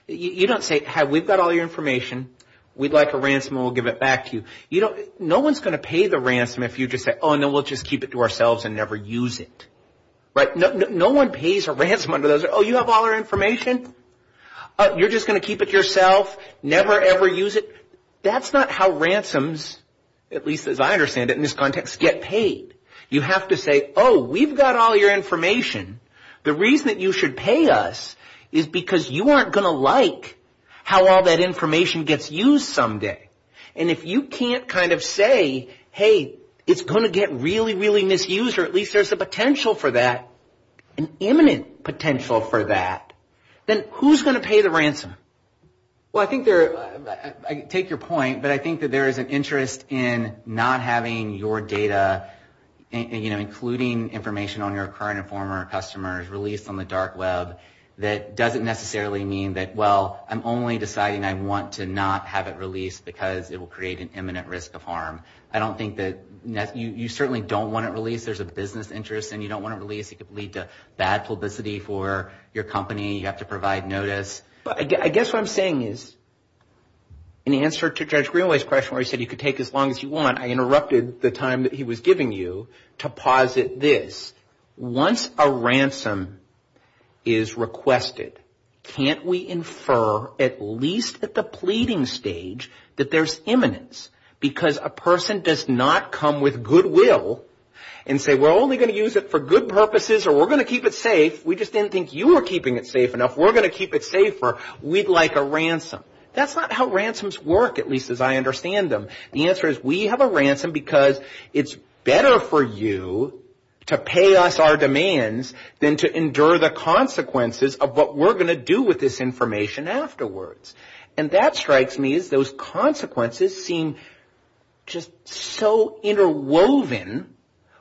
You don't say, hey, we've got all your information. We'd like a ransom and we'll give it back to you. No one's going to pay the ransom if you just say, oh, and then we'll just keep it to ourselves and never use it, right? No one pays a ransom under those. Oh, you have all our information? You're just going to keep it yourself, never, ever use it? That's not how ransoms, at least as I understand it in this context, get paid. You have to say, oh, we've got all your information. The reason that you should pay us is because you aren't going to like how all that information gets used someday. And if you can't kind of say, hey, it's going to get really, really misused or at least there's a potential for that, an imminent potential for that, then who's going to pay the ransom? Well, I take your point, but I think that there is an interest in not having your data, including information on your current and former customers, released on the dark web. That doesn't necessarily mean that, well, I'm only deciding I want to not have it released because it will create an imminent risk of harm. I don't think that you certainly don't want it released. There's a business interest and you don't want it released. It could lead to bad publicity for your company. You have to provide notice. I guess what I'm saying is in answer to Judge Greenway's question where he said you could take as long as you want, I interrupted the time that he was giving you to posit this. Once a ransom is requested, can't we infer, at least at the pleading stage, that there's imminence? Because a person does not come with goodwill and say we're only going to use it for good purposes or we're going to keep it safe. We just didn't think you were keeping it safe enough. We're going to keep it safer. We'd like a ransom. That's not how ransoms work, at least as I understand them. The answer is we have a ransom because it's better for you to pay us our demands than to endure the consequences of what we're going to do with this information afterwards. That strikes me as those consequences seem just so interwoven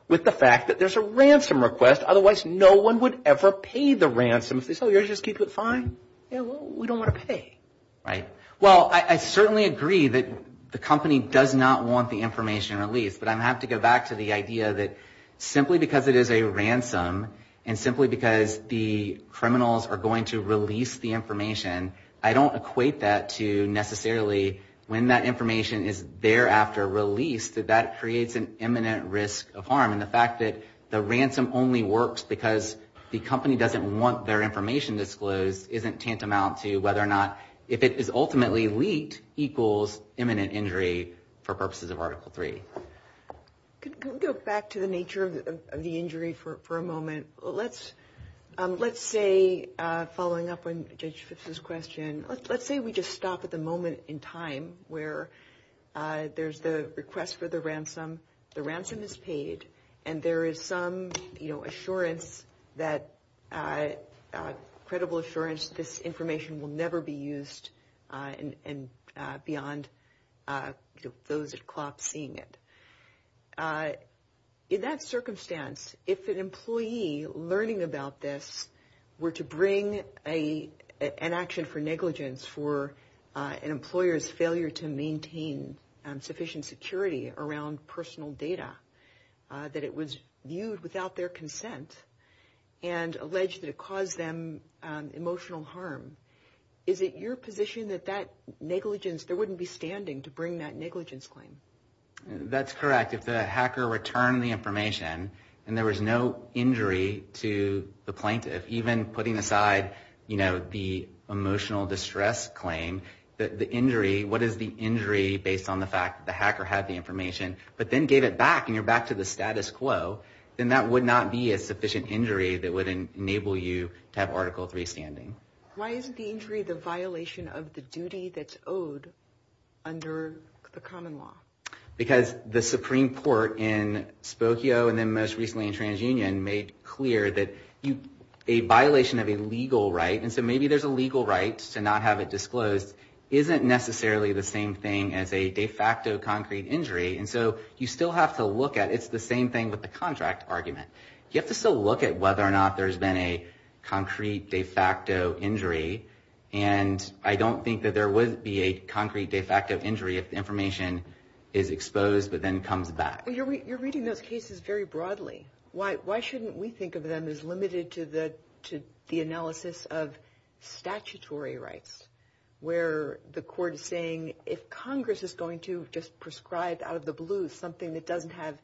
with the fact that there's a ransom request. Otherwise, no one would ever pay the ransom. So you're just going to keep it fine? We don't want to pay. Right. Well, I certainly agree that the company does not want the information released, but I have to go back to the idea that simply because it is a ransom and simply because the criminals are going to release the information, I don't equate that to necessarily when that information is thereafter released that that creates an imminent risk of harm. And the fact that the ransom only works because the company doesn't want their information disclosed isn't tantamount to whether or not if it is ultimately leaked equals imminent injury for purposes of Article III. Can we go back to the nature of the injury for a moment? Let's say, following up on Judge Fitzgibbon's question, let's say we just stop at the moment in time where there's the request for the ransom, the ransom is paid, and there is some assurance, credible assurance, that this information will never be used beyond those at clock seeing it. In that circumstance, if an employee learning about this were to bring an action for negligence for an employer's failure to maintain sufficient security around personal data, that it was used without their consent and alleged that it caused them emotional harm, is it your position that there wouldn't be standing to bring that negligence claim? That's correct. If the hacker returned the information and there was no injury to the plaintiff, even putting aside the emotional distress claim, what is the injury based on the fact that the hacker had the information, but then gave it back and you're back to the status quo, then that would not be a sufficient injury that would enable you to have Article III standing. Why isn't the injury the violation of the duty that's owed under the common law? Because the Supreme Court in Spokane and then most recently in TransUnion made clear that a violation of a legal right, and so maybe there's a legal right to not have it disclosed, isn't necessarily the same thing as a de facto concrete injury, and so you still have to look at it. It's the same thing with the contract argument. You have to still look at whether or not there's been a concrete de facto injury, and I don't think that there would be a concrete de facto injury if the information is exposed but then comes back. You're reading those cases very broadly. Why shouldn't we think of them as limited to the analysis of statutory rights where the court is saying if Congress is going to just prescribe out of the blue something that doesn't have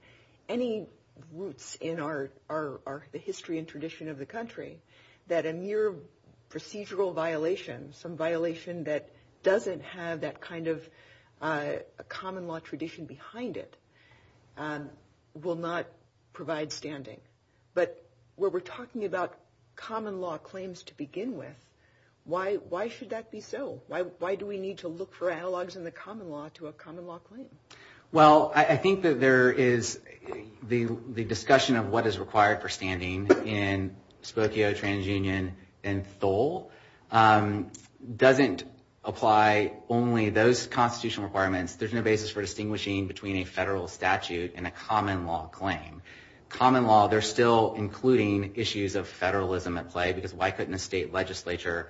any roots in the history and tradition of the country, that a mere procedural violation, some violation that doesn't have that kind of common law tradition behind it, will not provide standing? But where we're talking about common law claims to begin with, why should that be so? Why do we need to look for analogs in the common law to a common law claim? Well, I think that there is the discussion of what is required for standing in Spokane, TransUnion, and Stoll doesn't apply only to those constitutional requirements. There's no basis for distinguishing between a federal statute and a common law claim. Common law, they're still including issues of federalism at play because why couldn't the state legislature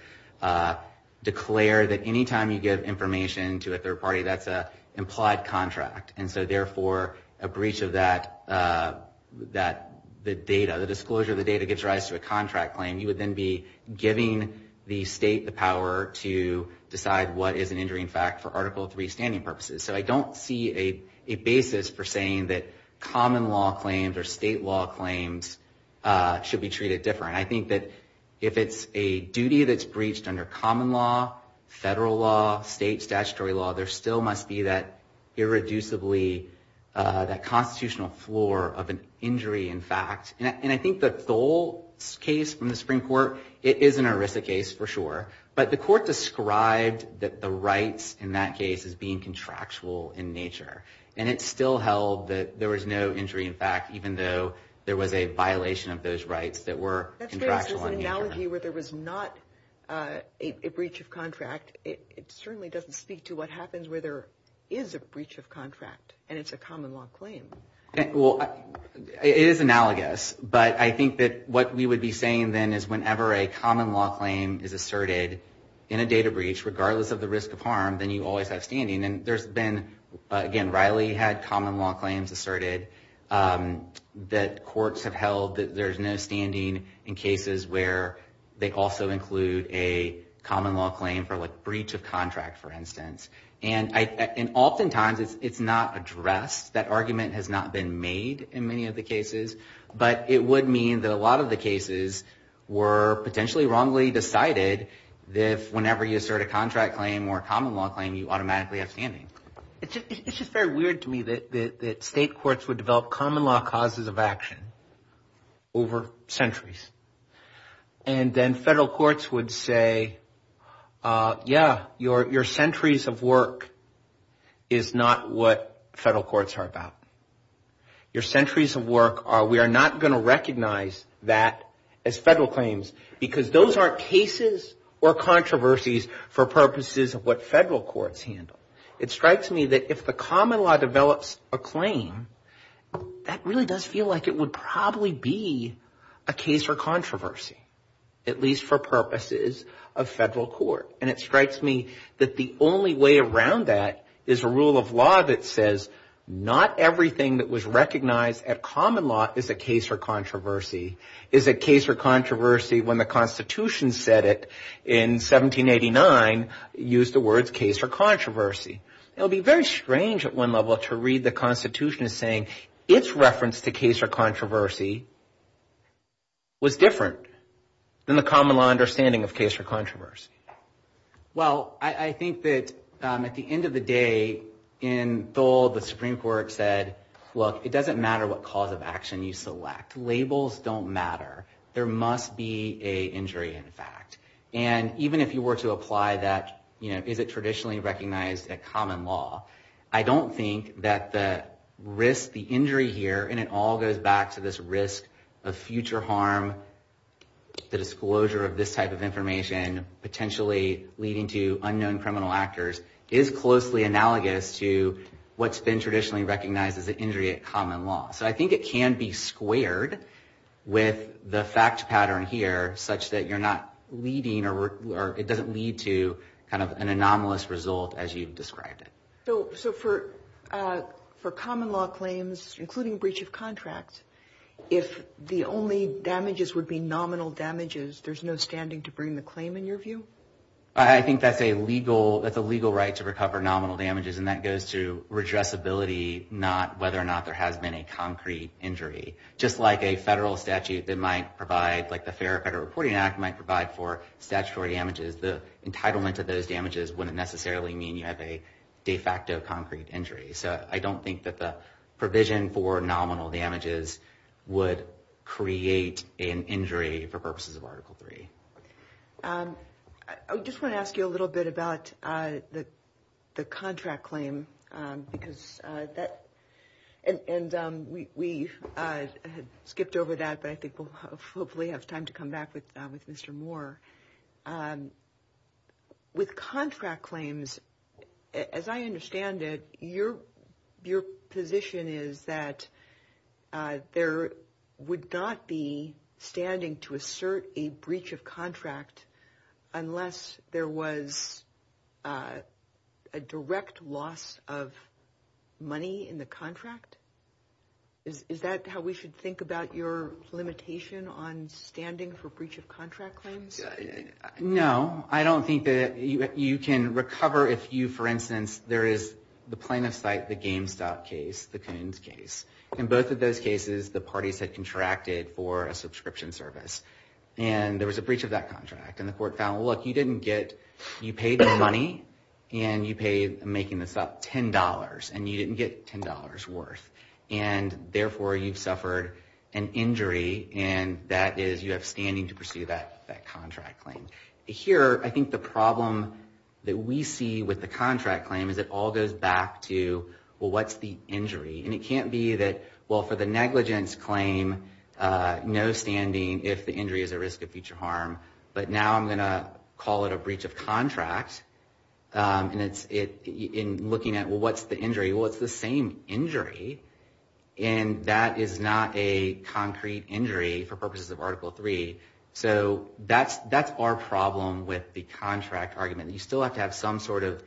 declare that any time you give information to a third party, that's an implied contract? And so therefore, a breach of that, the data, the disclosure of the data gives rise to a contract claim. You would then be giving the state the power to decide what is an injury in fact for Article III standing purposes. So I don't see a basis for saying that common law claims or state law claims should be treated differently. I think that if it's a duty that's breached under common law, federal law, state statutory law, there still must be that irreducibly, that constitutional floor of an injury in fact. And I think that Stoll's case from the Supreme Court, it is an ERISA case for sure. But the court described that the rights in that case as being contractual in nature. And it still held that there was no injury in fact even though there was a violation of those rights that were contractual in nature. That's an analogy where there was not a breach of contract. It certainly doesn't speak to what happens where there is a breach of contract and it's a common law claim. Well, it is analogous. But I think that what we would be saying then is whenever a common law claim is asserted in a data breach, regardless of the risk of harm, then you always have standing. And there's been, again, Riley had common law claims asserted that courts have held that there's no standing in cases where they also include a common law claim for like breach of contract for instance. And oftentimes it's not addressed. That argument has not been made in many of the cases. But it would mean that a lot of the cases were potentially wrongly decided that whenever you assert a contract claim or a common law claim, you automatically have standing. It's just very weird to me that state courts would develop common law causes of action over centuries. And then federal courts would say, yeah, your centuries of work is not what federal courts are about. Your centuries of work, we are not going to recognize that as federal claims because those aren't cases or controversies for purposes of what federal courts handle. It strikes me that if the common law develops a claim, that really does feel like it would probably be a case for controversy, at least for purposes of federal court. And it strikes me that the only way around that is a rule of law that says not everything that was recognized at common law is a case for controversy, is a case for controversy when the Constitution said it in 1789, used the words case for controversy. It would be very strange at one level to read the Constitution saying its reference to case for controversy was different than the common law understanding of case for controversy. Well, I think that at the end of the day in Dole, the Supreme Court said, look, it doesn't matter what cause of action you select. Labels don't matter. There must be a injury in fact. And even if you were to apply that, is it traditionally recognized at common law? I don't think that the risk, the injury here, and it all goes back to this risk of future harm, the disclosure of this type of information potentially leading to unknown criminal actors is closely analogous to what's been traditionally recognized as an injury at common law. So I think it can be squared with the fact pattern here such that you're not leading, or it doesn't lead to kind of an anomalous result as you've described it. So for common law claims, including breach of contract, if the only damages would be nominal damages, there's no standing to bring the claim in your view? I think that's a legal right to recover nominal damages, and that goes to redressability, not whether or not there has been a concrete injury. Just like a federal statute that might provide, like the Fair Federal Reporting Act might provide for statutory damages, the entitlement to those damages wouldn't necessarily mean you have a de facto concrete injury. So I don't think that the provision for nominal damages would create an injury for purposes of Article III. I just want to ask you a little bit about the contract claim, because that... And we had skipped over that, but I think we'll hopefully have time to come back with Mr. Moore. With contract claims, as I understand it, your position is that there would not be standing to assert a breach of contract unless there was a direct loss of money in the contract? Is that how we should think about your limitation on standing for breach of contract claims? No, I don't think that you can recover if you, for instance, there is the plaintiff's site, the GameStop case, the Coons case. In both of those cases, the parties had contracted for a subscription service, and there was a breach of that contract, and the court found, look, you didn't get... You paid the money, and you paid making this up $10, and you didn't get $10 worth, and therefore you've suffered an injury, and that is you have standing to pursue that contract claim. Here, I think the problem that we see with the contract claim is it all goes back to, well, what's the injury? And it can't be that, well, for the negligence claim, no standing if the injury is at risk of future harm. But now I'm going to call it a breach of contract, and looking at, well, what's the injury? Well, it's the same injury, and that is not a concrete injury for purposes of Article III. So that's our problem with the contract argument. You still have to have some sort of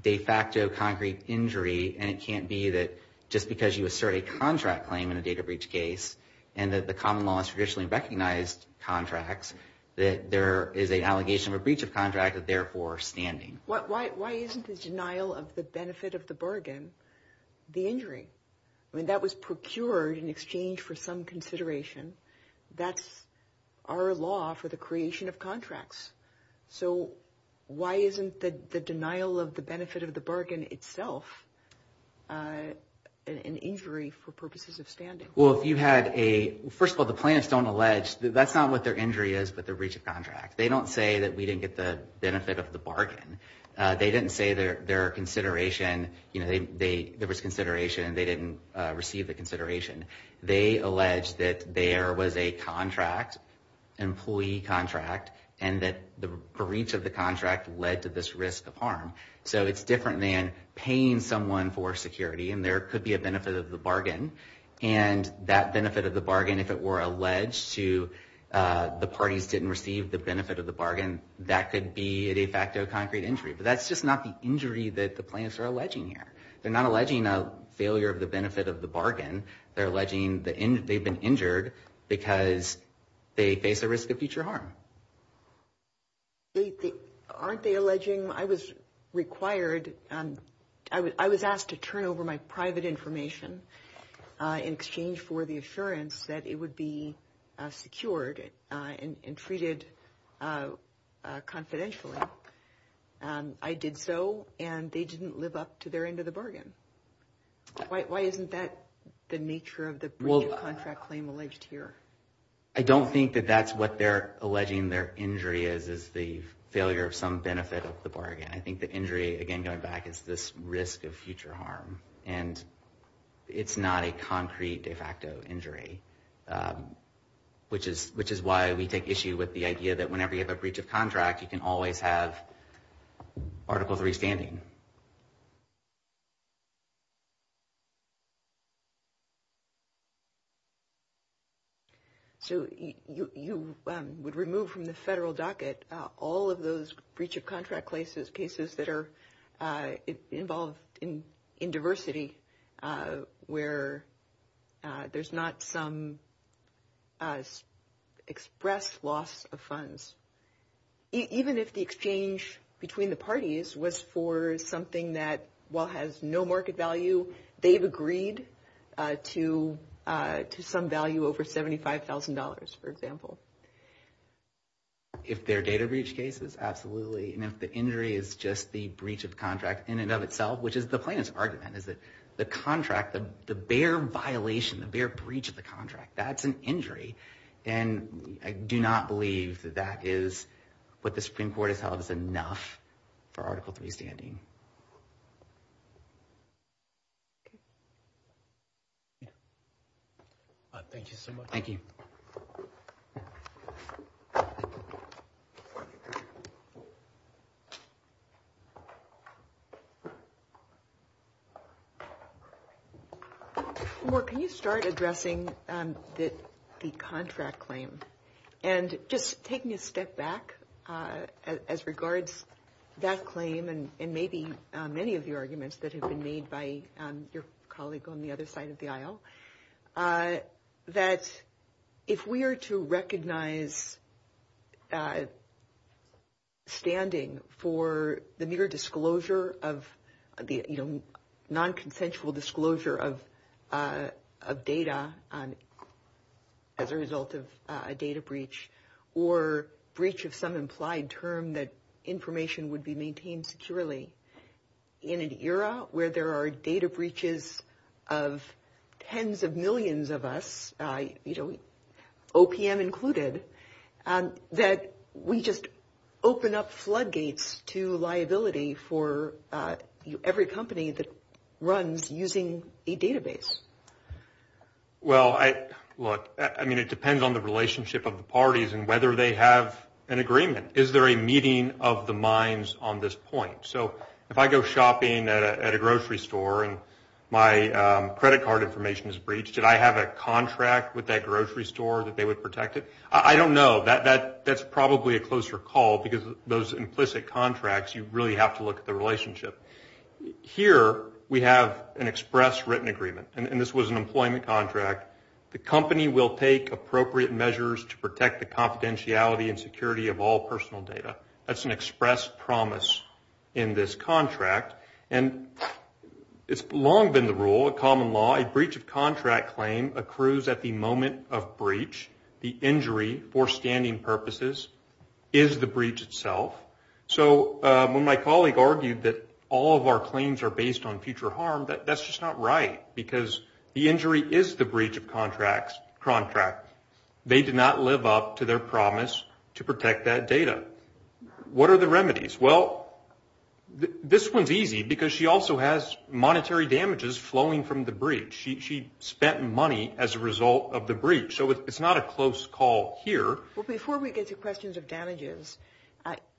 de facto concrete injury, and it can't be that just because you assert a contract claim in a data breach case and that the common law has traditionally recognized contracts that there is an allegation of a breach of contract that's therefore standing. Why isn't the denial of the benefit of the bargain the injury? I mean, that was procured in exchange for some consideration. That's our law for the creation of contracts. So why isn't the denial of the benefit of the bargain itself an injury for purposes of standing? Well, if you had a – first of all, the plaintiffs don't allege that that's not what their injury is with the breach of contract. They don't say that we didn't get the benefit of the bargain. They didn't say their consideration, you know, there was consideration and they didn't receive the consideration. They allege that there was a contract, an employee contract, and that the breach of the contract led to this risk of harm. So it's different than paying someone for security, and there could be a benefit of the bargain, and that benefit of the bargain, if it were alleged to the parties didn't receive the benefit of the bargain, that could be a de facto concrete injury. But that's just not the injury that the plaintiffs are alleging here. They're not alleging a failure of the benefit of the bargain. They're alleging that they've been injured because they face a risk of future harm. Aren't they alleging I was required – I was asked to turn over my private information in exchange for the assurance that it would be secured and treated confidentially. I did so, and they didn't live up to their end of the bargain. Why isn't that the nature of the breach of contract claim alleged here? I don't think that that's what they're alleging their injury is, is the failure of some benefit of the bargain. I think the injury, again, going back, is this risk of future harm, and it's not a concrete de facto injury, which is why we take issue with the idea that whenever you have a breach of contract, you can always have articles of responding. So you would remove from the federal docket all of those breach of contract cases that are involved in diversity where there's not some expressed loss of funds. Even if the exchange between the parties was for something that, while has no market value, they've agreed to some value over $75,000, for example. If they're data breach cases, absolutely, and if the injury is just the breach of contract in and of itself, which is the plaintiff's argument, is that the contract, the bare violation, the bare breach of the contract, that's an injury. I do not believe that that is what the Supreme Court has held is enough for Article 3 standing. Thank you so much. Thank you. Thank you. Can you start addressing the contract claim? And just taking a step back as regards that claim and maybe many of the arguments that have been made by your colleague on the other side of the aisle, that if we are to recognize standing for the mere disclosure of, non-consensual disclosure of data as a result of a data breach or breach of some implied term that information would be maintained securely in an era where there are data breaches of tens of millions of us, OPM included, that we just open up floodgates to liability for every company that runs using a database. Well, look, I mean, it depends on the relationship of the parties and whether they have an agreement. Is there a meeting of the minds on this point? So if I go shopping at a grocery store and my credit card information is breached, did I have a contract with that grocery store that they would protect it? I don't know. That's probably a closer call because those implicit contracts, you really have to look at the relationship. Here we have an express written agreement, and this was an employment contract. The company will take appropriate measures to protect the confidentiality and security of all personal data. That's an express promise in this contract, and it's long been the rule of common law. A breach of contract claim accrues at the moment of breach. The injury, for standing purposes, is the breach itself. So when my colleague argued that all of our claims are based on future harm, that's just not right because the injury is the breach of contract. They did not live up to their promise to protect that data. What are the remedies? Well, this one's easy because she also has monetary damages flowing from the breach. She spent money as a result of the breach. So it's not a close call here. Well, before we get to questions of damages,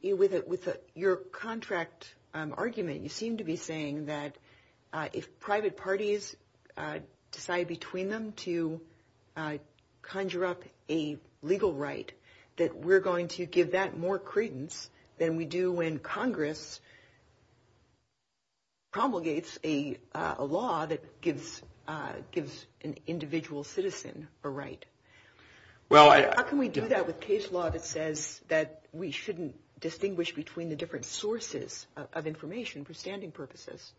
with your contract argument, you seem to be saying that if private parties decide between them to conjure up a legal right, that we're going to give that more credence than we do when Congress promulgates a law that gives an individual citizen a right. How can we do that with case law that says that we shouldn't distinguish between the different sources of information for standing purposes?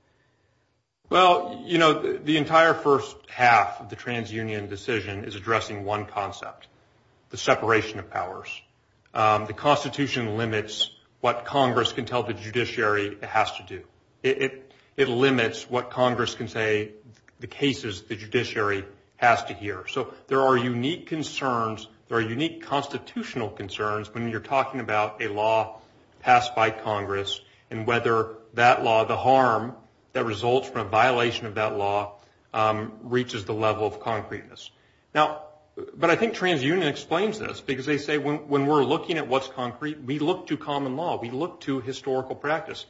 Well, you know, the entire first half of the transunion decision is addressing one concept, the separation of powers. The Constitution limits what Congress can tell the judiciary it has to do. It limits what Congress can say the cases the judiciary has to hear. So there are unique constitutional concerns when you're talking about a law passed by Congress and whether that law, the harm that results from a violation of that law, reaches the level of concreteness. But I think transunion explains this because they say when we're looking at what's concrete, we look to common law. We look to historical practice.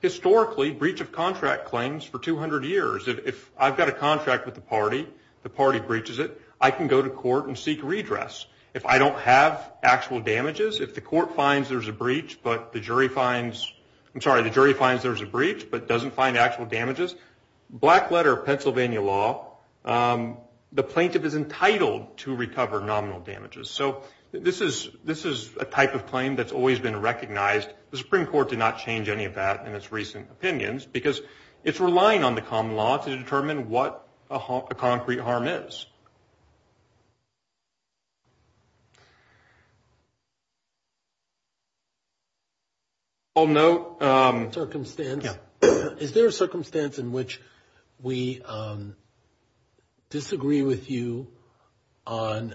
Historically, breach of contract claims for 200 years, if I've got a contract with the party, the party breaches it, I can go to court and seek redress. If I don't have actual damages, if the court finds there's a breach, but the jury finds, I'm sorry, the jury finds there's a breach but doesn't find actual damages, black letter of Pennsylvania law, the plaintiff is entitled to recover nominal damages. So this is a type of claim that's always been recognized. The Supreme Court did not change any of that in its recent opinions because it's relying on the common law to determine what a concrete harm is. I'll note. Is there a circumstance in which we disagree with you on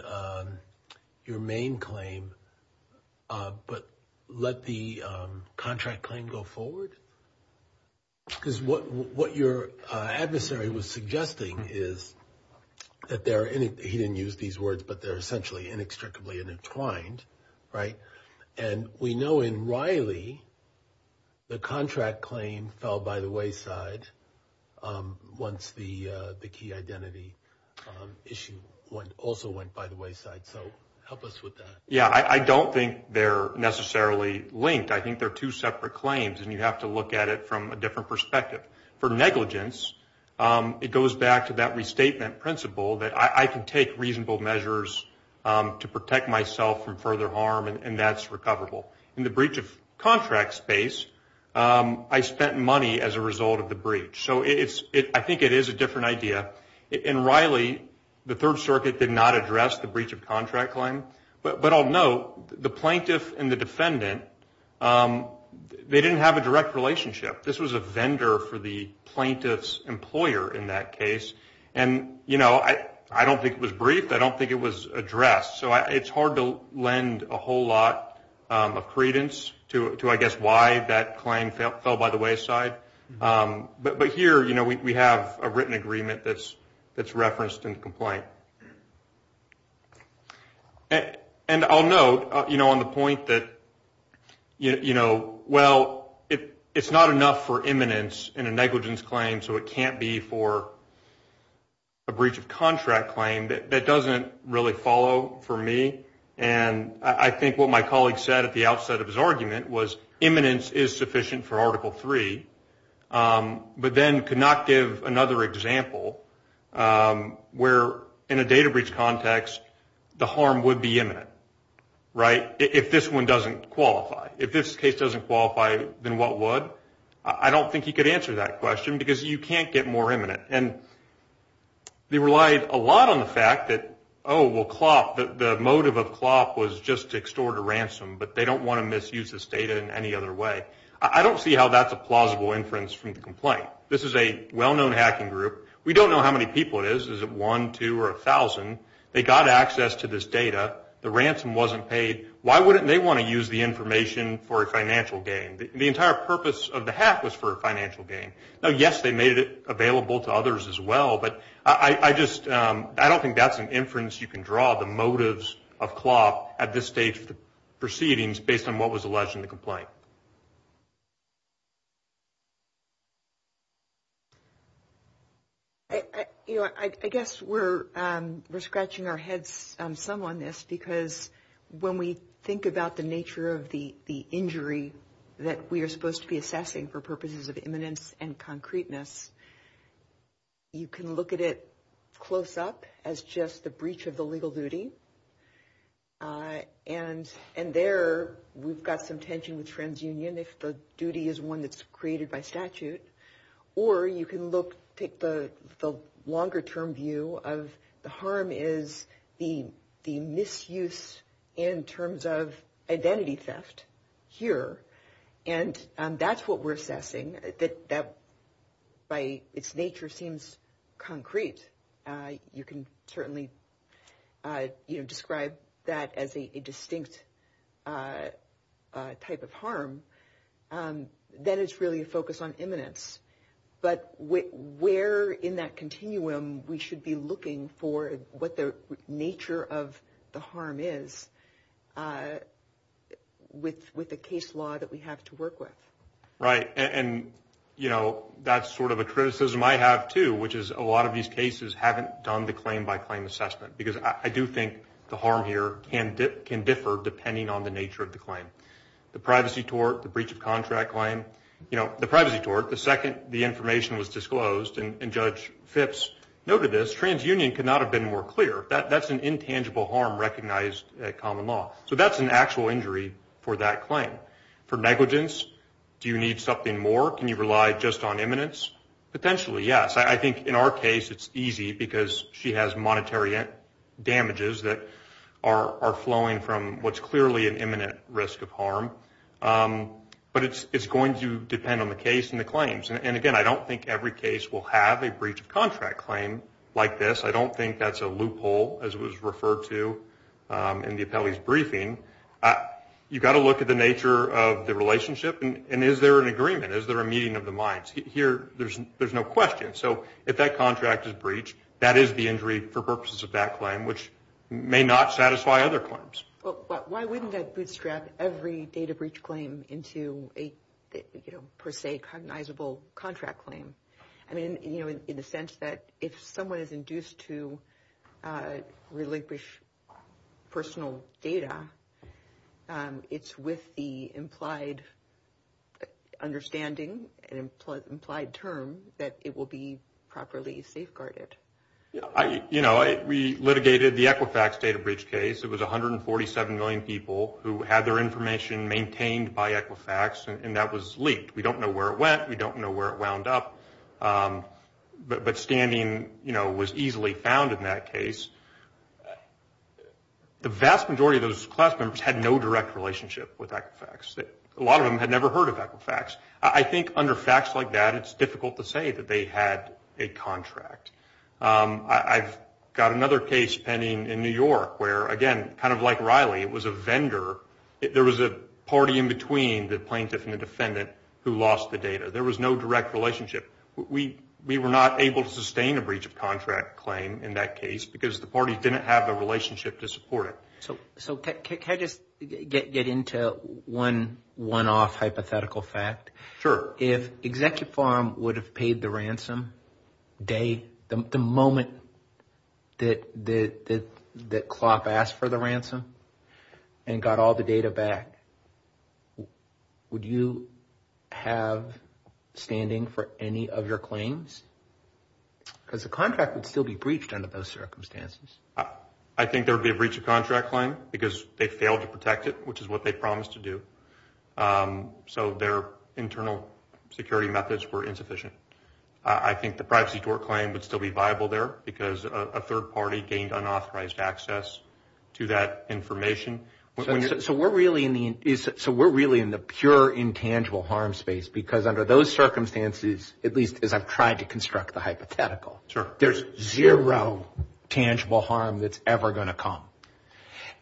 your main claim but let the contract claim go forward? Because what your adversary was suggesting is that there are, he didn't use these words, but they're essentially inextricably entwined, right? And we know in Riley, the contract claim fell by the wayside once the key identity issue also went by the wayside. So help us with that. Yeah, I don't think they're necessarily linked. I think they're two separate claims, and you have to look at it from a different perspective. For negligence, it goes back to that restatement principle that I can take reasonable measures to protect myself from further harm, and that's recoverable. In the breach of contract space, I spent money as a result of the breach. So I think it is a different idea. In Riley, the Third Circuit did not address the breach of contract claim. But I'll note, the plaintiff and the defendant, they didn't have a direct relationship. This was a vendor for the plaintiff's employer in that case. And, you know, I don't think it was brief. I don't think it was addressed. So it's hard to lend a whole lot of credence to, I guess, why that claim fell by the wayside. But here, you know, we have a written agreement that's referenced in the complaint. And I'll note, you know, on the point that, you know, well, it's not enough for imminence in a negligence claim, so it can't be for a breach of contract claim. That doesn't really follow for me. And I think what my colleague said at the outset of his argument was imminence is sufficient for Article III, but then could not give another example where, in a data breach context, the harm would be imminent, right, if this one doesn't qualify. If this case doesn't qualify, then what would? I don't think he could answer that question because you can't get more imminent. And they relied a lot on the fact that, oh, well, CLOP, the motive of CLOP was just to extort a ransom. But they don't want to misuse this data in any other way. I don't see how that's a plausible inference from the complaint. This is a well-known hacking group. We don't know how many people it is. Is it one, two, or a thousand? They got access to this data. The ransom wasn't paid. Why wouldn't they want to use the information for a financial gain? The entire purpose of the hack was for a financial gain. Now, yes, they made it available to others as well, but I just, I don't think that's an inference you can draw, the motives of CLOP at this stage of the proceedings based on what was alleged in the complaint. I guess we're scratching our heads some on this because when we think about the nature of the injury that we are supposed to be assessing for purposes of imminence and concreteness, you can look at it close up as just the breach of the legal duty. And there we've got some tension with TransUnion if the duty is one that's created by statute. Or you can look, take the longer-term view of the harm is the misuse in terms of identity theft here. And that's what we're assessing. That by its nature seems concrete. You can certainly describe that as a distinct type of harm. But where in that continuum we should be looking for what the nature of the harm is with the case law that we have to work with. Right. And, you know, that's sort of a criticism I have too, which is a lot of these cases haven't done the claim-by-claim assessment. Because I do think the harm here can differ depending on the nature of the claim. The privacy tort, the breach of contract claim. You know, the privacy tort, the second the information was disclosed, and Judge Phipps noted this, TransUnion could not have been more clear. That's an intangible harm recognized at common law. So that's an actual injury for that claim. For negligence, do you need something more? Can you rely just on imminence? Potentially, yes. I think in our case it's easy because she has monetary damages that are flowing from what's clearly an imminent risk of harm. But it's going to depend on the case and the claims. And, again, I don't think every case will have a breach of contract claim like this. I don't think that's a loophole, as it was referred to in the appellee's briefing. You've got to look at the nature of the relationship. And is there an agreement? Is there a meeting of the minds? Here, there's no question. So if that contract is breached, that is the injury for purposes of that claim, which may not satisfy other claims. Why wouldn't that bootstrap every data breach claim into a, per se, cognizable contract claim? I mean, you know, in the sense that if someone is induced to relinquish personal data, it's with the implied understanding and implied term that it will be properly safeguarded. You know, we litigated the Equifax data breach case. It was 147 million people who had their information maintained by Equifax, and that was leaked. We don't know where it wound up. But scanning, you know, was easily found in that case. The vast majority of those class members had no direct relationship with Equifax. A lot of them had never heard of Equifax. I think under facts like that, it's difficult to say that they had a contract. I've got another case pending in New York where, again, kind of like Riley, it was a vendor. There was a party in between the plaintiff and the defendant who lost the data. There was no direct relationship. We were not able to sustain a breach of contract claim in that case because the parties didn't have the relationship to support it. So can I just get into one one-off hypothetical fact? Sure. If Executive Farm would have paid the ransom the moment that Clough asked for the ransom and got all the data back, would you have standing for any of your claims? Because the contract would still be breached under those circumstances. I think there would be a breach of contract claim because they failed to protect it, which is what they promised to do. So their internal security methods were insufficient. I think the private-sector claim would still be viable there because a third party gained unauthorized access to that information. So we're really in the pure intangible harm space because under those circumstances, at least as I'm trying to construct the hypothetical, there's zero tangible harm that's ever going to come.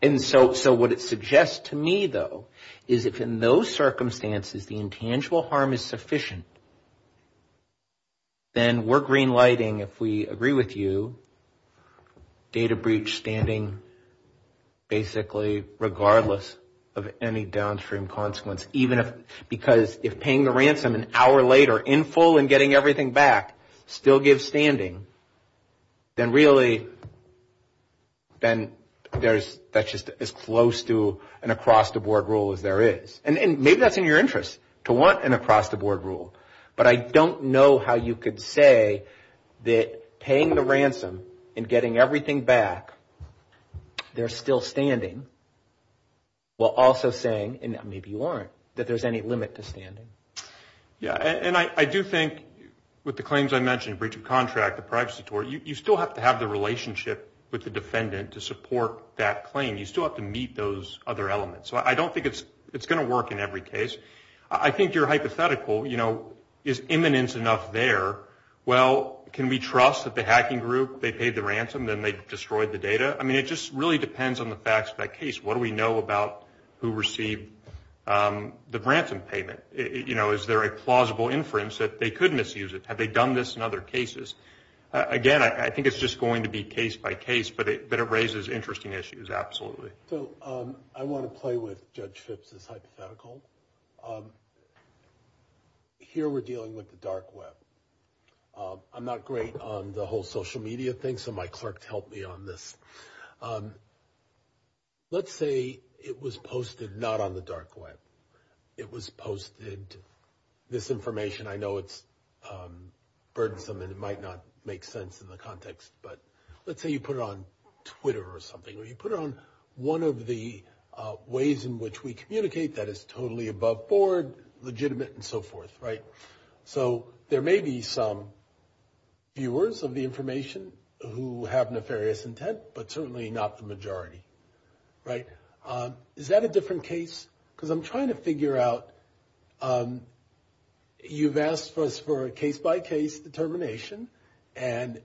And so what it suggests to me, though, is if in those circumstances the intangible harm is sufficient, then we're green lighting, if we agree with you, data breach standing basically regardless of any downstream consequence. Because if paying the ransom an hour later, in full and getting everything back, still gives standing, then really that's just as close to an across-the-board rule as there is. And maybe that's in your interest to want an across-the-board rule. But I don't know how you could say that paying the ransom and getting everything back, they're still standing while also saying, and maybe you aren't, that there's any limit to standing. Yeah, and I do think with the claims I mentioned, breach of contract, the privacy tort, you still have to have the relationship with the defendant to support that claim. You still have to meet those other elements. So I don't think it's going to work in every case. I think your hypothetical is imminent enough there. Well, can we trust that the hacking group, they paid the ransom, then they destroyed the data? I mean, it just really depends on the facts of that case. What do we know about who received the ransom payment? Is there a plausible inference that they could misuse it? Have they done this in other cases? Again, I think it's just going to be case by case, but it raises interesting issues, absolutely. So I want to play with Judge Fitz's hypothetical. Here we're dealing with the dark web. I'm not great on the whole social media thing, so my clerk helped me on this. Let's say it was posted not on the dark web. It was posted, this information, I know it's burdensome and it might not make sense in the context, but let's say you put it on Twitter or something, or you put it on one of the ways in which we communicate that is totally above board, legitimate, and so forth. So there may be some viewers of the information who have nefarious intent, but certainly not the majority. Is that a different case? Because I'm trying to figure out, you've asked us for a case-by-case determination, and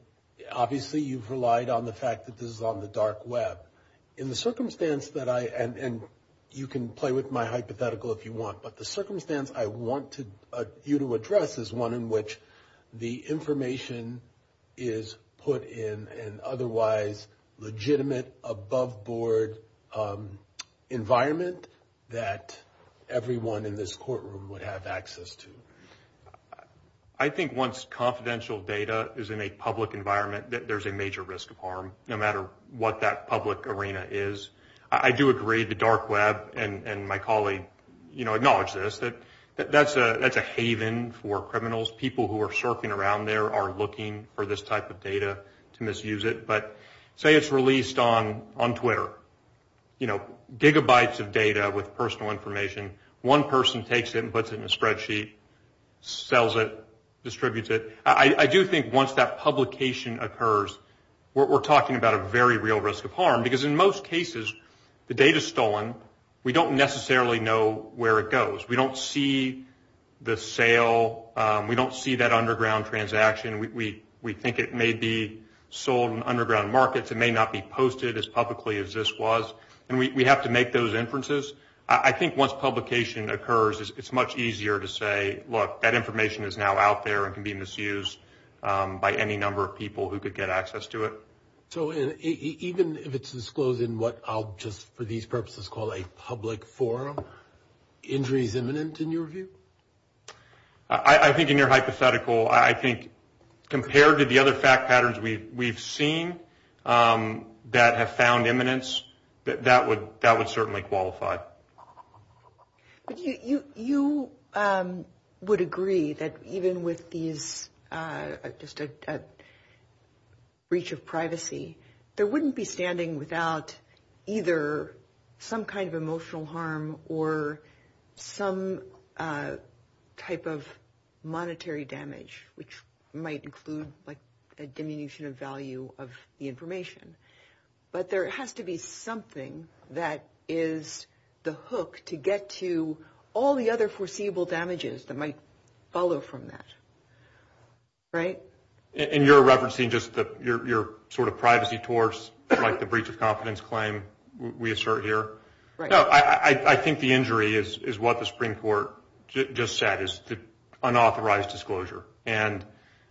obviously you've relied on the fact that this is on the dark web. In the circumstance that I, and you can play with my hypothetical if you want, but the circumstance I want you to address is one in which the information is put in an otherwise legitimate, above board environment that everyone in this courtroom would have access to. I think once confidential data is in a public environment, there's a major risk of harm, no matter what that public arena is. I do agree the dark web, and my colleague acknowledged this, that that's a haven for criminals. People who are surfing around there are looking for this type of data to misuse it. But say it's released on Twitter, gigabytes of data with personal information. One person takes it and puts it in a spreadsheet, sells it, distributes it. I do think once that publication occurs, we're talking about a very real risk of harm, because in most cases, the data is stolen. We don't necessarily know where it goes. We don't see the sale. We don't see that underground transaction. We think it may be sold in underground markets. It may not be posted as publicly as this was. And we have to make those inferences. I think once publication occurs, it's much easier to say, look, that information is now out there and can be misused by any number of people who could get access to it. So even if it's disclosed in what I'll just, for these purposes, call a public forum, injury is imminent in your view? I think in your hypothetical, I think compared to the other fact patterns we've seen that have found imminence, that would certainly qualify. You would agree that even with these breach of privacy, there wouldn't be standing without either some kind of emotional harm or some type of monetary damage, which might include a diminution of value of the information. But there has to be something that is the hook to get to all the other foreseeable damages that might follow from that. Right? And you're referencing just your sort of privacy towards like the breach of confidence claim we assert here? No, I think the injury is what the Supreme Court just said, is the unauthorized disclosure. And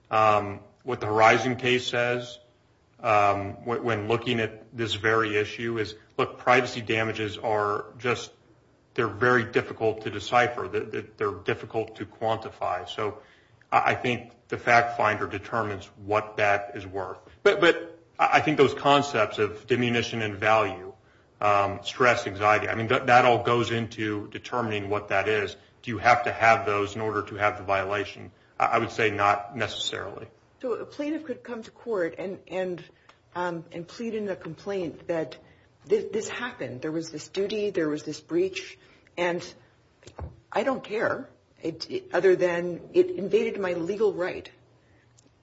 what the Horizon case says when looking at this very issue is, look, privacy damages are just, they're very difficult to decipher. They're difficult to quantify. So I think the fact finder determines what that is worth. But I think those concepts of diminution in value, stress, anxiety, I mean, that all goes into determining what that is. Do you have to have those in order to have the violation? I would say not necessarily. So a plaintiff could come to court and plead in the complaint that this happened. There was this duty. There was this breach. And I don't care, other than it invaded my legal right. It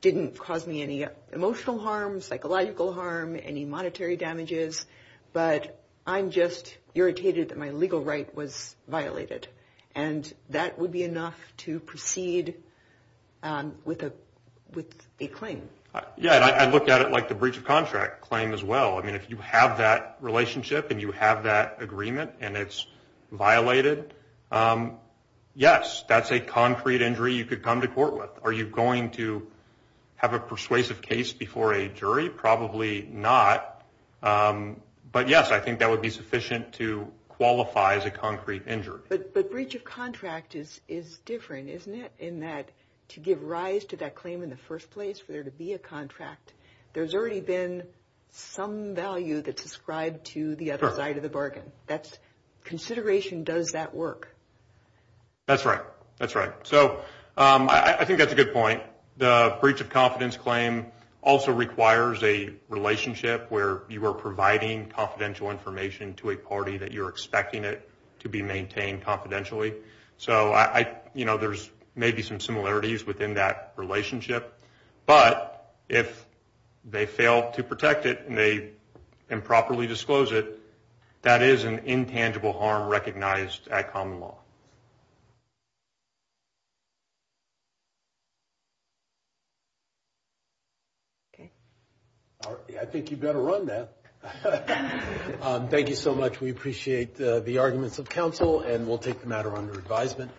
didn't cause me any emotional harm, psychological harm, any monetary damages. But I'm just irritated that my legal right was violated. And that would be enough to proceed with a claim. Yeah, I look at it like the breach of contract claim as well. I mean, if you have that relationship and you have that agreement and it's violated, yes, that's a concrete injury you could come to court with. Are you going to have a persuasive case before a jury? Probably not. But, yes, I think that would be sufficient to qualify as a concrete injury. But breach of contract is different, isn't it, in that to give rise to that claim in the first place for there to be a contract, there's already been some value that's ascribed to the other side of the bargain. Consideration does that work. That's right. That's right. So I think that's a good point. The breach of confidence claim also requires a relationship where you are providing confidential information to a party that you're expecting it to be maintained confidentially. So there's maybe some similarities within that relationship. But if they fail to protect it and they improperly disclose it, that is an intangible harm recognized at common law. Okay. All right. I think you better run, then. Thank you so much. We appreciate the arguments of counsel, and we'll take the matter under advisement.